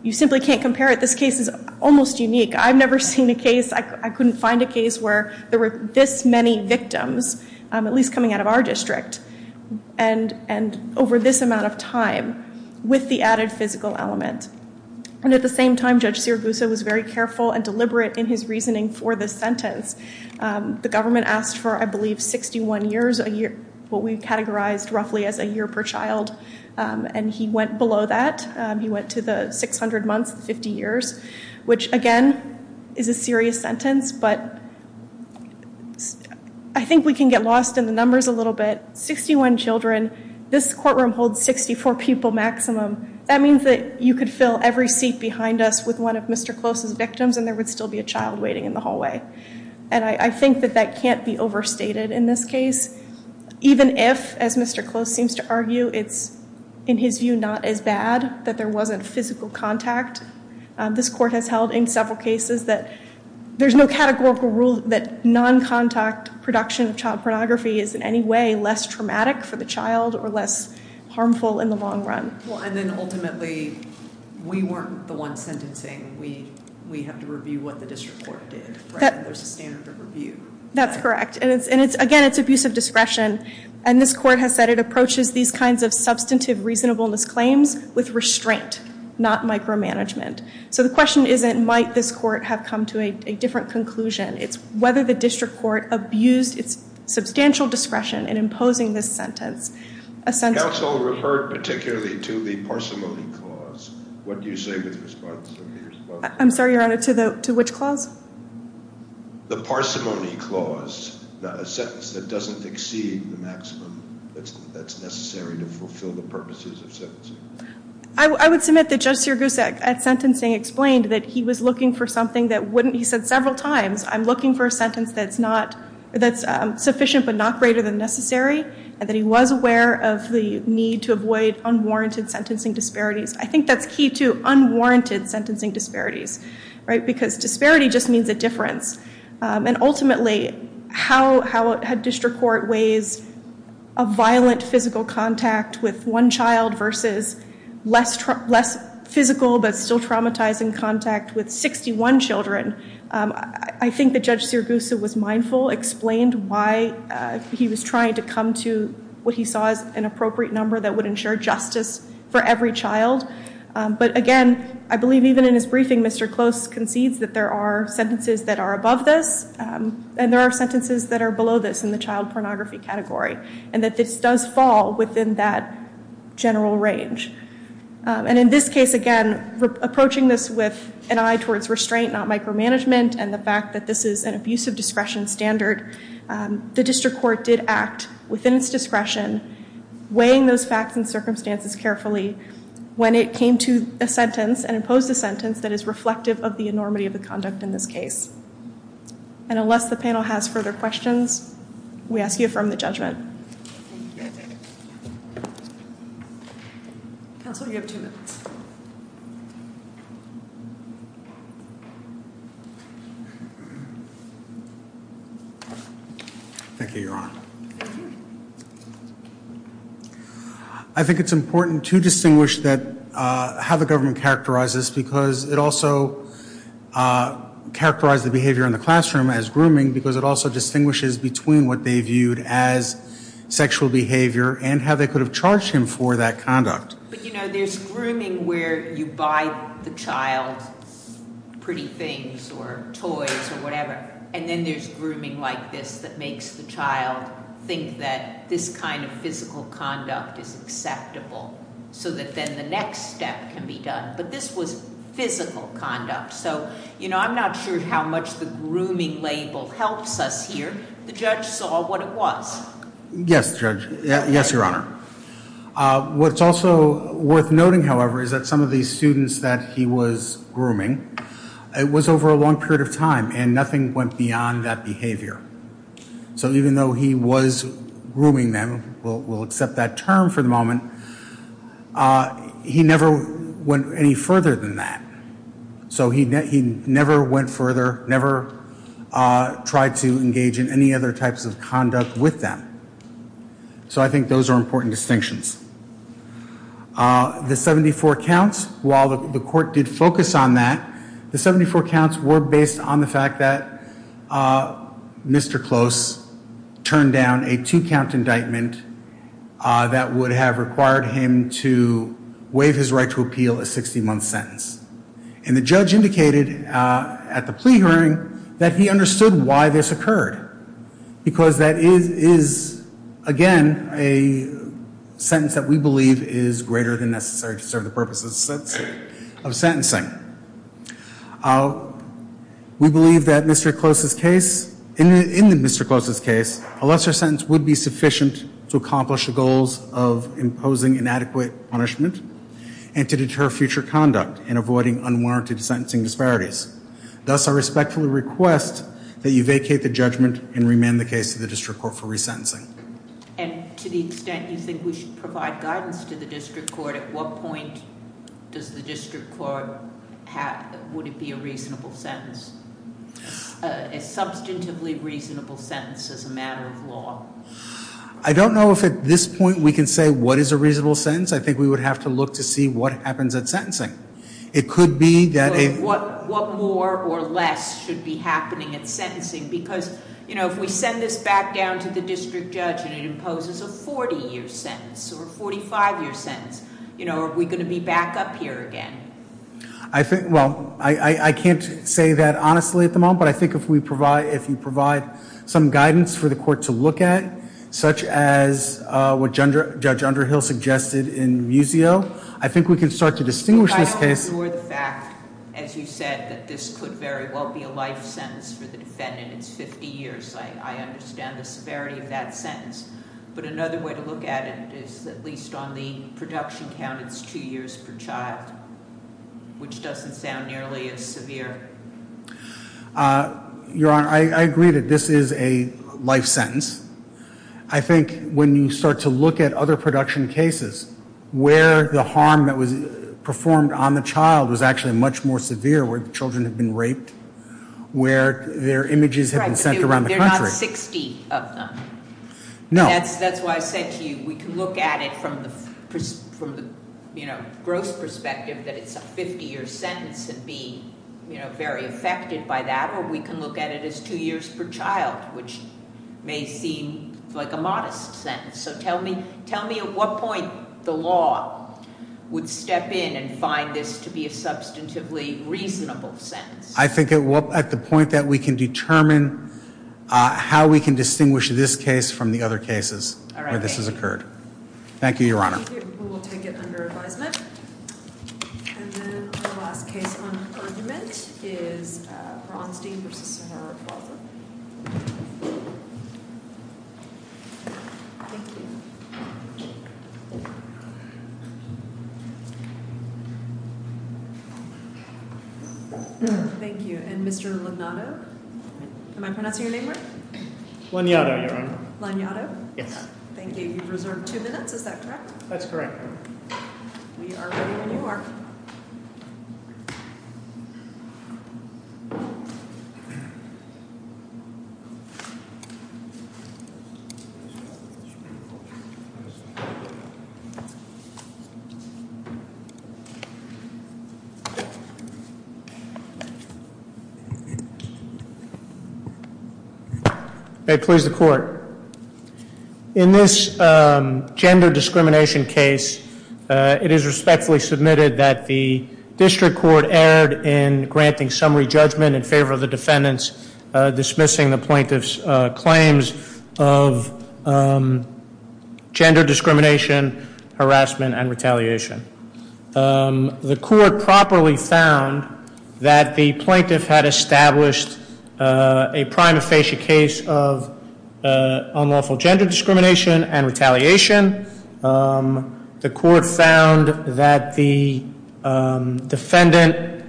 you simply can't compare it. This case is almost unique. I've never seen a case, I couldn't find a case where there were this many victims, at least coming out of our district. And over this amount of time, with the added physical element. And at the same time, Judge Sirigusa was very careful and deliberate in his reasoning for this sentence. The government asked for, I believe, 61 years, what we've categorized roughly as a year per child. And he went below that. He went to the 600 months, the 50 years. Which, again, is a serious sentence. But I think we can get lost in the numbers a little bit. 61 children. This courtroom holds 64 people maximum. That means that you could fill every seat behind us with one of Mr. Close's victims and there would still be a child waiting in the hallway. And I think that that can't be overstated in this case. Even if, as Mr. Close seems to argue, it's, in his view, not as bad. That there wasn't physical contact. This court has held in several cases that there's no categorical rule that non-contact production of child pornography is in any way less traumatic for the child or less harmful in the long run. And then ultimately, we weren't the ones sentencing. We have to review what the district court did. There's a standard of review. That's correct. And again, it's abuse of discretion. And this court has said it approaches these kinds of substantive reasonableness claims with restraint, not micromanagement. So the question isn't might this court have come to a different conclusion. It's whether the district court abused its substantial discretion in imposing this sentence. Counsel referred particularly to the parsimony clause. What do you say to the response? I'm sorry, Your Honor, to which clause? The parsimony clause. A sentence that doesn't exceed the maximum that's necessary to fulfill the purposes of sentencing. I would submit that Judge Sirigusa at sentencing explained that he was looking for something that wouldn't. He said several times, I'm looking for a sentence that's sufficient but not greater than necessary. And that he was aware of the need to avoid unwarranted sentencing disparities. I think that's key to unwarranted sentencing disparities. Because disparity just means a difference. And ultimately, how a district court weighs a violent physical contact with one child versus less physical but still traumatizing contact with 61 children. I think that Judge Sirigusa was mindful, explained why he was trying to come to what he saw as an appropriate number that would ensure justice for every child. But again, I believe even in his briefing, Mr. Close concedes that there are sentences that are above this. And there are sentences that are below this in the child pornography category. And that this does fall within that general range. And in this case, again, approaching this with an eye towards restraint, not micromanagement. And the fact that this is an abusive discretion standard. The district court did act within its discretion, weighing those facts and circumstances carefully when it came to a sentence and imposed a sentence that is reflective of the enormity of the conduct in this case. And unless the panel has further questions, we ask you to affirm the judgment. Counsel, you have two minutes. Thank you, Your Honor. I think it's important to distinguish how the government characterized this because it also characterized the behavior in the classroom as grooming because it also distinguishes between what they viewed as sexual behavior and how they could have charged him for that conduct. But, you know, there's grooming where you buy the child pretty things or toys or whatever. And then there's grooming like this that makes the child think that this kind of physical conduct is acceptable so that then the next step can be done. But this was physical conduct. So, you know, I'm not sure how much the grooming label helps us here. The judge saw what it was. Yes, Judge. Yes, Your Honor. What's also worth noting, however, is that some of these students that he was grooming, it was over a long period of time and nothing went beyond that behavior. So even though he was grooming them, we'll accept that term for the moment, he never went any further than that. So he never went further, never tried to engage in any other types of conduct with them. So I think those are important distinctions. The 74 counts, while the court did focus on that, the 74 counts were based on the fact that Mr. Close turned down a two-count indictment that would have required him to waive his right to appeal a 60-month sentence. And the judge indicated at the plea hearing that he understood why this occurred because that is, again, a sentence that we believe is greater than necessary to serve the purposes of sentencing. We believe that in Mr. Close's case, a lesser sentence would be sufficient to accomplish the goals of imposing inadequate punishment and to deter future conduct in avoiding unwarranted sentencing disparities. Thus, I respectfully request that you vacate the judgment and remand the case to the district court for resentencing. And to the extent you think we should provide guidance to the district court, at what point does the district court have, would it be a reasonable sentence, a substantively reasonable sentence as a matter of law? I don't know if at this point we can say what is a reasonable sentence. I think we would have to look to see what happens at sentencing. What more or less should be happening at sentencing? Because if we send this back down to the district judge and it imposes a 40-year sentence or a 45-year sentence, are we going to be back up here again? I can't say that honestly at the moment, but I think if you provide some guidance for the court to look at, such as what Judge Underhill suggested in Muzio, I think we can start to distinguish this case. But I don't ignore the fact, as you said, that this could very well be a life sentence for the defendant. It's 50 years. I understand the severity of that sentence. But another way to look at it is at least on the production count, it's two years per child, which doesn't sound nearly as severe. Your Honor, I agree that this is a life sentence. I think when you start to look at other production cases, where the harm that was performed on the child was actually much more severe, where the children had been raped, where their images had been sent around the country. Right, but there are not 60 of them. No. That's why I said to you we can look at it from the gross perspective that it's a 50-year sentence and be very affected by that, or we can look at it as two years per child, which may seem like a modest sentence. So tell me at what point the law would step in and find this to be a substantively reasonable sentence. I think at the point that we can determine how we can distinguish this case from the other cases where this has occurred. All right, thank you. Thank you, Your Honor. We will take it under advisement. And then the last case on argument is Bronstein v. Sahara Plaza. Thank you. And Mr. Laniato, am I pronouncing your name right? Laniato, Your Honor. Laniato? Yes. Thank you. You've reserved two minutes, is that correct? That's correct. We are ready when you are. May it please the Court. In this gender discrimination case, it is respectfully submitted that the district court erred in granting summary judgment in favor of the defendants dismissing the plaintiff's claims of gender discrimination, harassment, and retaliation. The court properly found that the plaintiff had established a prima facie case of unlawful gender discrimination and retaliation. The court found that the defendant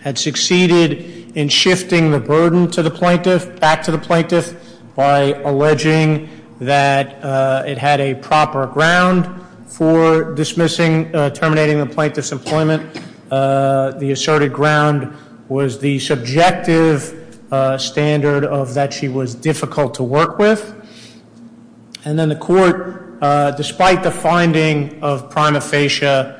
had succeeded in shifting the burden to the plaintiff, back to the plaintiff, by alleging that it had a proper ground for dismissing, terminating the plaintiff's employment. The asserted ground was the subjective standard of that she was difficult to work with. And then the court, despite the finding of prima facie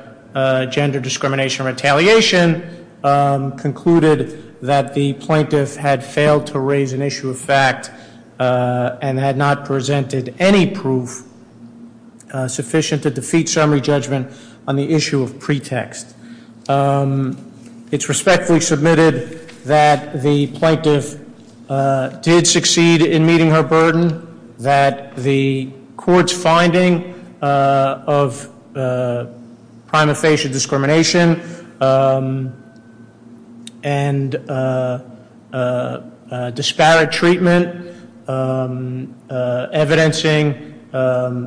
gender discrimination and retaliation, concluded that the plaintiff had failed to raise an issue of fact and had not presented any proof sufficient to defeat summary judgment on the issue of pretext. It's respectfully submitted that the plaintiff did succeed in meeting her burden, that the court's finding of prima facie discrimination and disparate treatment evidencing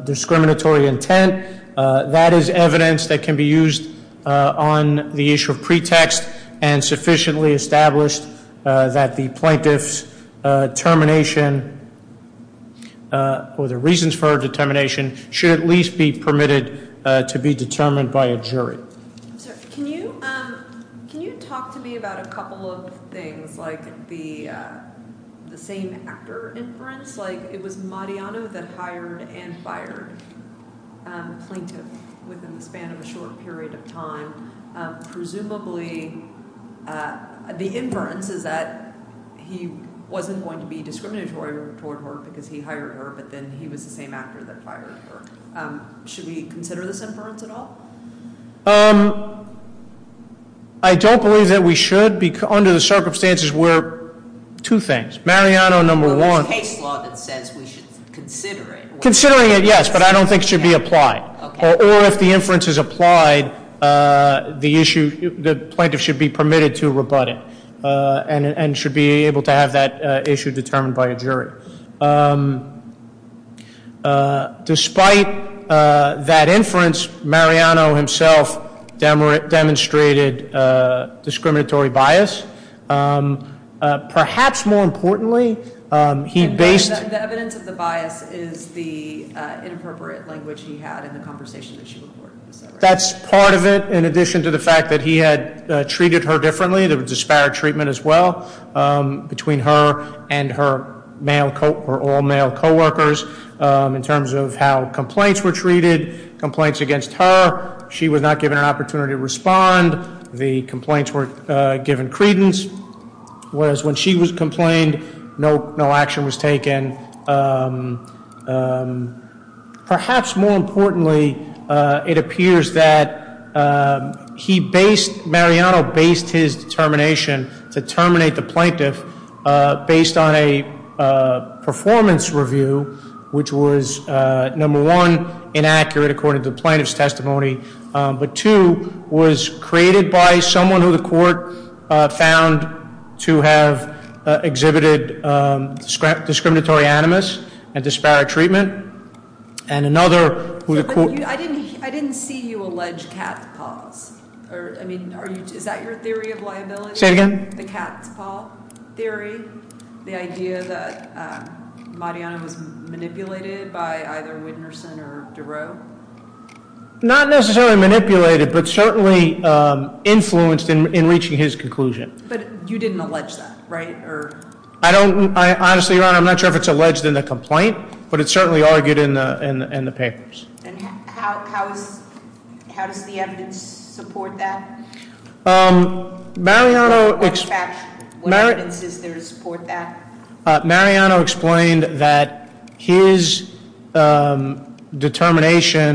discriminatory intent, that is evidence that can be used on the issue of pretext and sufficiently established that the plaintiff's termination or the reasons for her determination should at least be permitted to be determined by a jury. Can you talk to me about a couple of things like the same actor inference? Like it was Mariano that hired and fired the plaintiff within the span of a short period of time. Presumably, the inference is that he wasn't going to be discriminatory toward her because he hired her, but then he was the same actor that fired her. Should we consider this inference at all? I don't believe that we should. Under the circumstances, we're two things. Mariano, number one... Well, there's case law that says we should consider it. Considering it, yes, but I don't think it should be applied. Or if the inference is applied, the plaintiff should be permitted to rebut it and should be able to have that issue determined by a jury. Despite that inference, Mariano himself demonstrated discriminatory bias. Perhaps more importantly, he based... And the evidence of the bias is the inappropriate language he had in the conversation that she recorded. That's part of it, in addition to the fact that he had treated her differently. There was disparate treatment as well between her and her all-male co-workers in terms of how complaints were treated, complaints against her. She was not given an opportunity to respond. The complaints were given credence. Whereas when she was complained, no action was taken. Perhaps more importantly, it appears that Mariano based his determination to terminate the plaintiff based on a performance review, which was, number one, inaccurate according to the plaintiff's testimony, but, two, was created by someone who the court found to have exhibited discriminatory animus and disparate treatment, and another who the court... I didn't see you allege cat's paws. I mean, is that your theory of liability? Say it again? The cat's paw theory? The idea that Mariano was manipulated by either Whitnerson or Durow? Not necessarily manipulated, but certainly influenced in reaching his conclusion. But you didn't allege that, right? Honestly, Your Honor, I'm not sure if it's alleged in the complaint, but it's certainly argued in the papers. How does the evidence support that? What evidence is there to support that? Mariano explained that his determination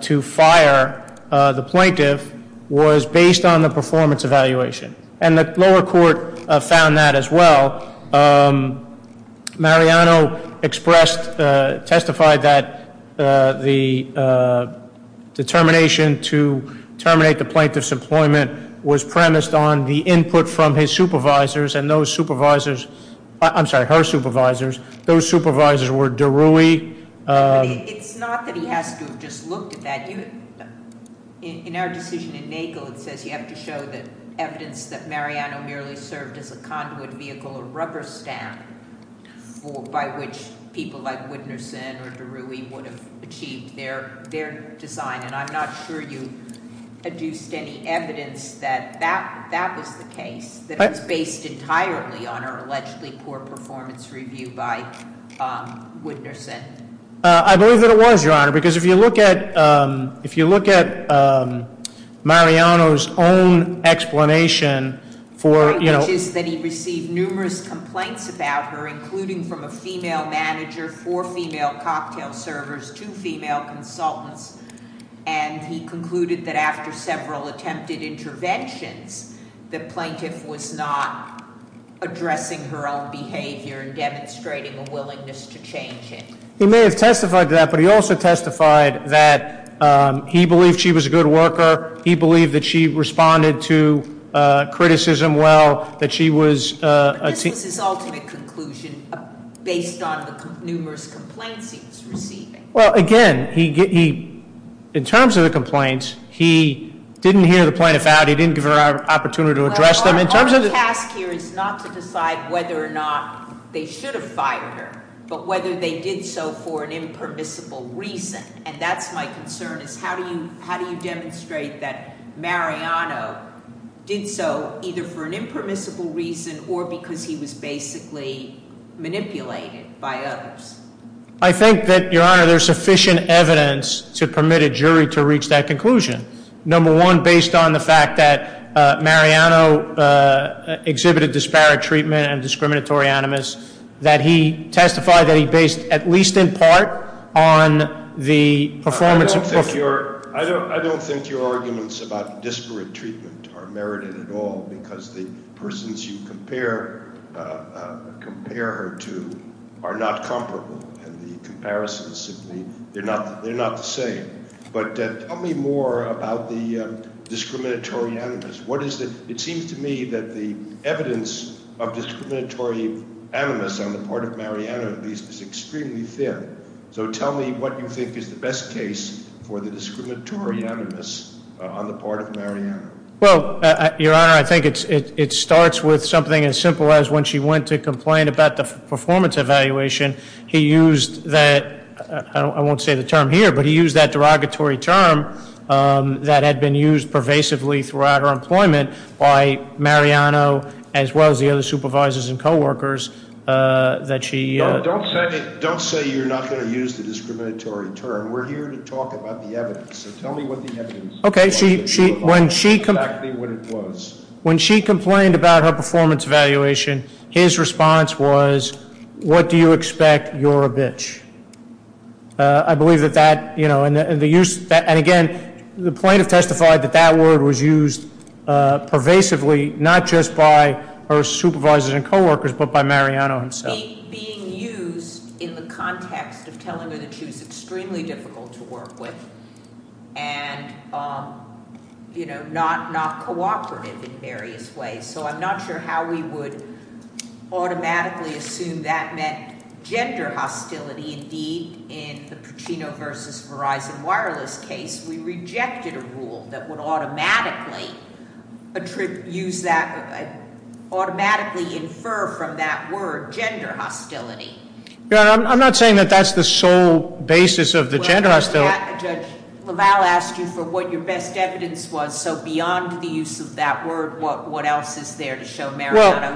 to fire the plaintiff was based on the performance evaluation, and the lower court found that as well. Mariano expressed, testified that the determination to terminate the plaintiff's employment was premised on the input from his supervisors, and those supervisors... I'm sorry, her supervisors. Those supervisors were Durow. It's not that he has to have just looked at that. In our decision in Nagel, it says you have to show the evidence that Mariano merely served as a conduit vehicle or rubber stamp by which people like Whitnerson or Durow would have achieved their design, and I'm not sure you produced any evidence that that was the case, that it was based entirely on her allegedly poor performance review by Whitnerson. I believe that it was, Your Honor, because if you look at Mariano's own explanation for... The point is that he received numerous complaints about her, and he concluded that after several attempted interventions, the plaintiff was not addressing her own behavior and demonstrating a willingness to change it. He may have testified to that, but he also testified that he believed she was a good worker. He believed that she responded to criticism well, that she was... But this was his ultimate conclusion based on the numerous complaints he was receiving. Well, again, in terms of the complaints, he didn't hear the plaintiff out. He didn't give her an opportunity to address them. Our task here is not to decide whether or not they should have fired her, but whether they did so for an impermissible reason, and that's my concern is how do you demonstrate that Mariano did so either for an impermissible reason or because he was basically manipulated by others? I think that, Your Honor, there's sufficient evidence to permit a jury to reach that conclusion. Number one, based on the fact that Mariano exhibited disparate treatment and discriminatory animus, that he testified that he based at least in part on the performance of... I don't think your arguments about disparate treatment are merited at all because the persons you compare her to are not comparable, and the comparisons simply, they're not the same. But tell me more about the discriminatory animus. It seems to me that the evidence of discriminatory animus on the part of Mariano, at least, is extremely thin. So tell me what you think is the best case for the discriminatory animus on the part of Mariano. Well, Your Honor, I think it starts with something as simple as when she went to complain about the performance evaluation, he used that, I won't say the term here, but he used that derogatory term that had been used pervasively throughout her employment by Mariano, as well as the other supervisors and coworkers that she... Don't say you're not going to use the discriminatory term. We're here to talk about the evidence, so tell me what the evidence is. Okay, when she complained about her performance evaluation, his response was, what do you expect, you're a bitch. I believe that that, you know, and again, the plaintiff testified that that word was used pervasively, not just by her supervisors and coworkers, but by Mariano himself. It was being used in the context of telling her that she was extremely difficult to work with, and, you know, not cooperative in various ways. So I'm not sure how we would automatically assume that meant gender hostility. Indeed, in the Pacino versus Verizon Wireless case, we rejected a rule that would automatically use that, automatically infer from that word gender hostility. I'm not saying that that's the sole basis of the gender hostility. Judge LaValle asked you for what your best evidence was, so beyond the use of that word, what else is there to show Mariano...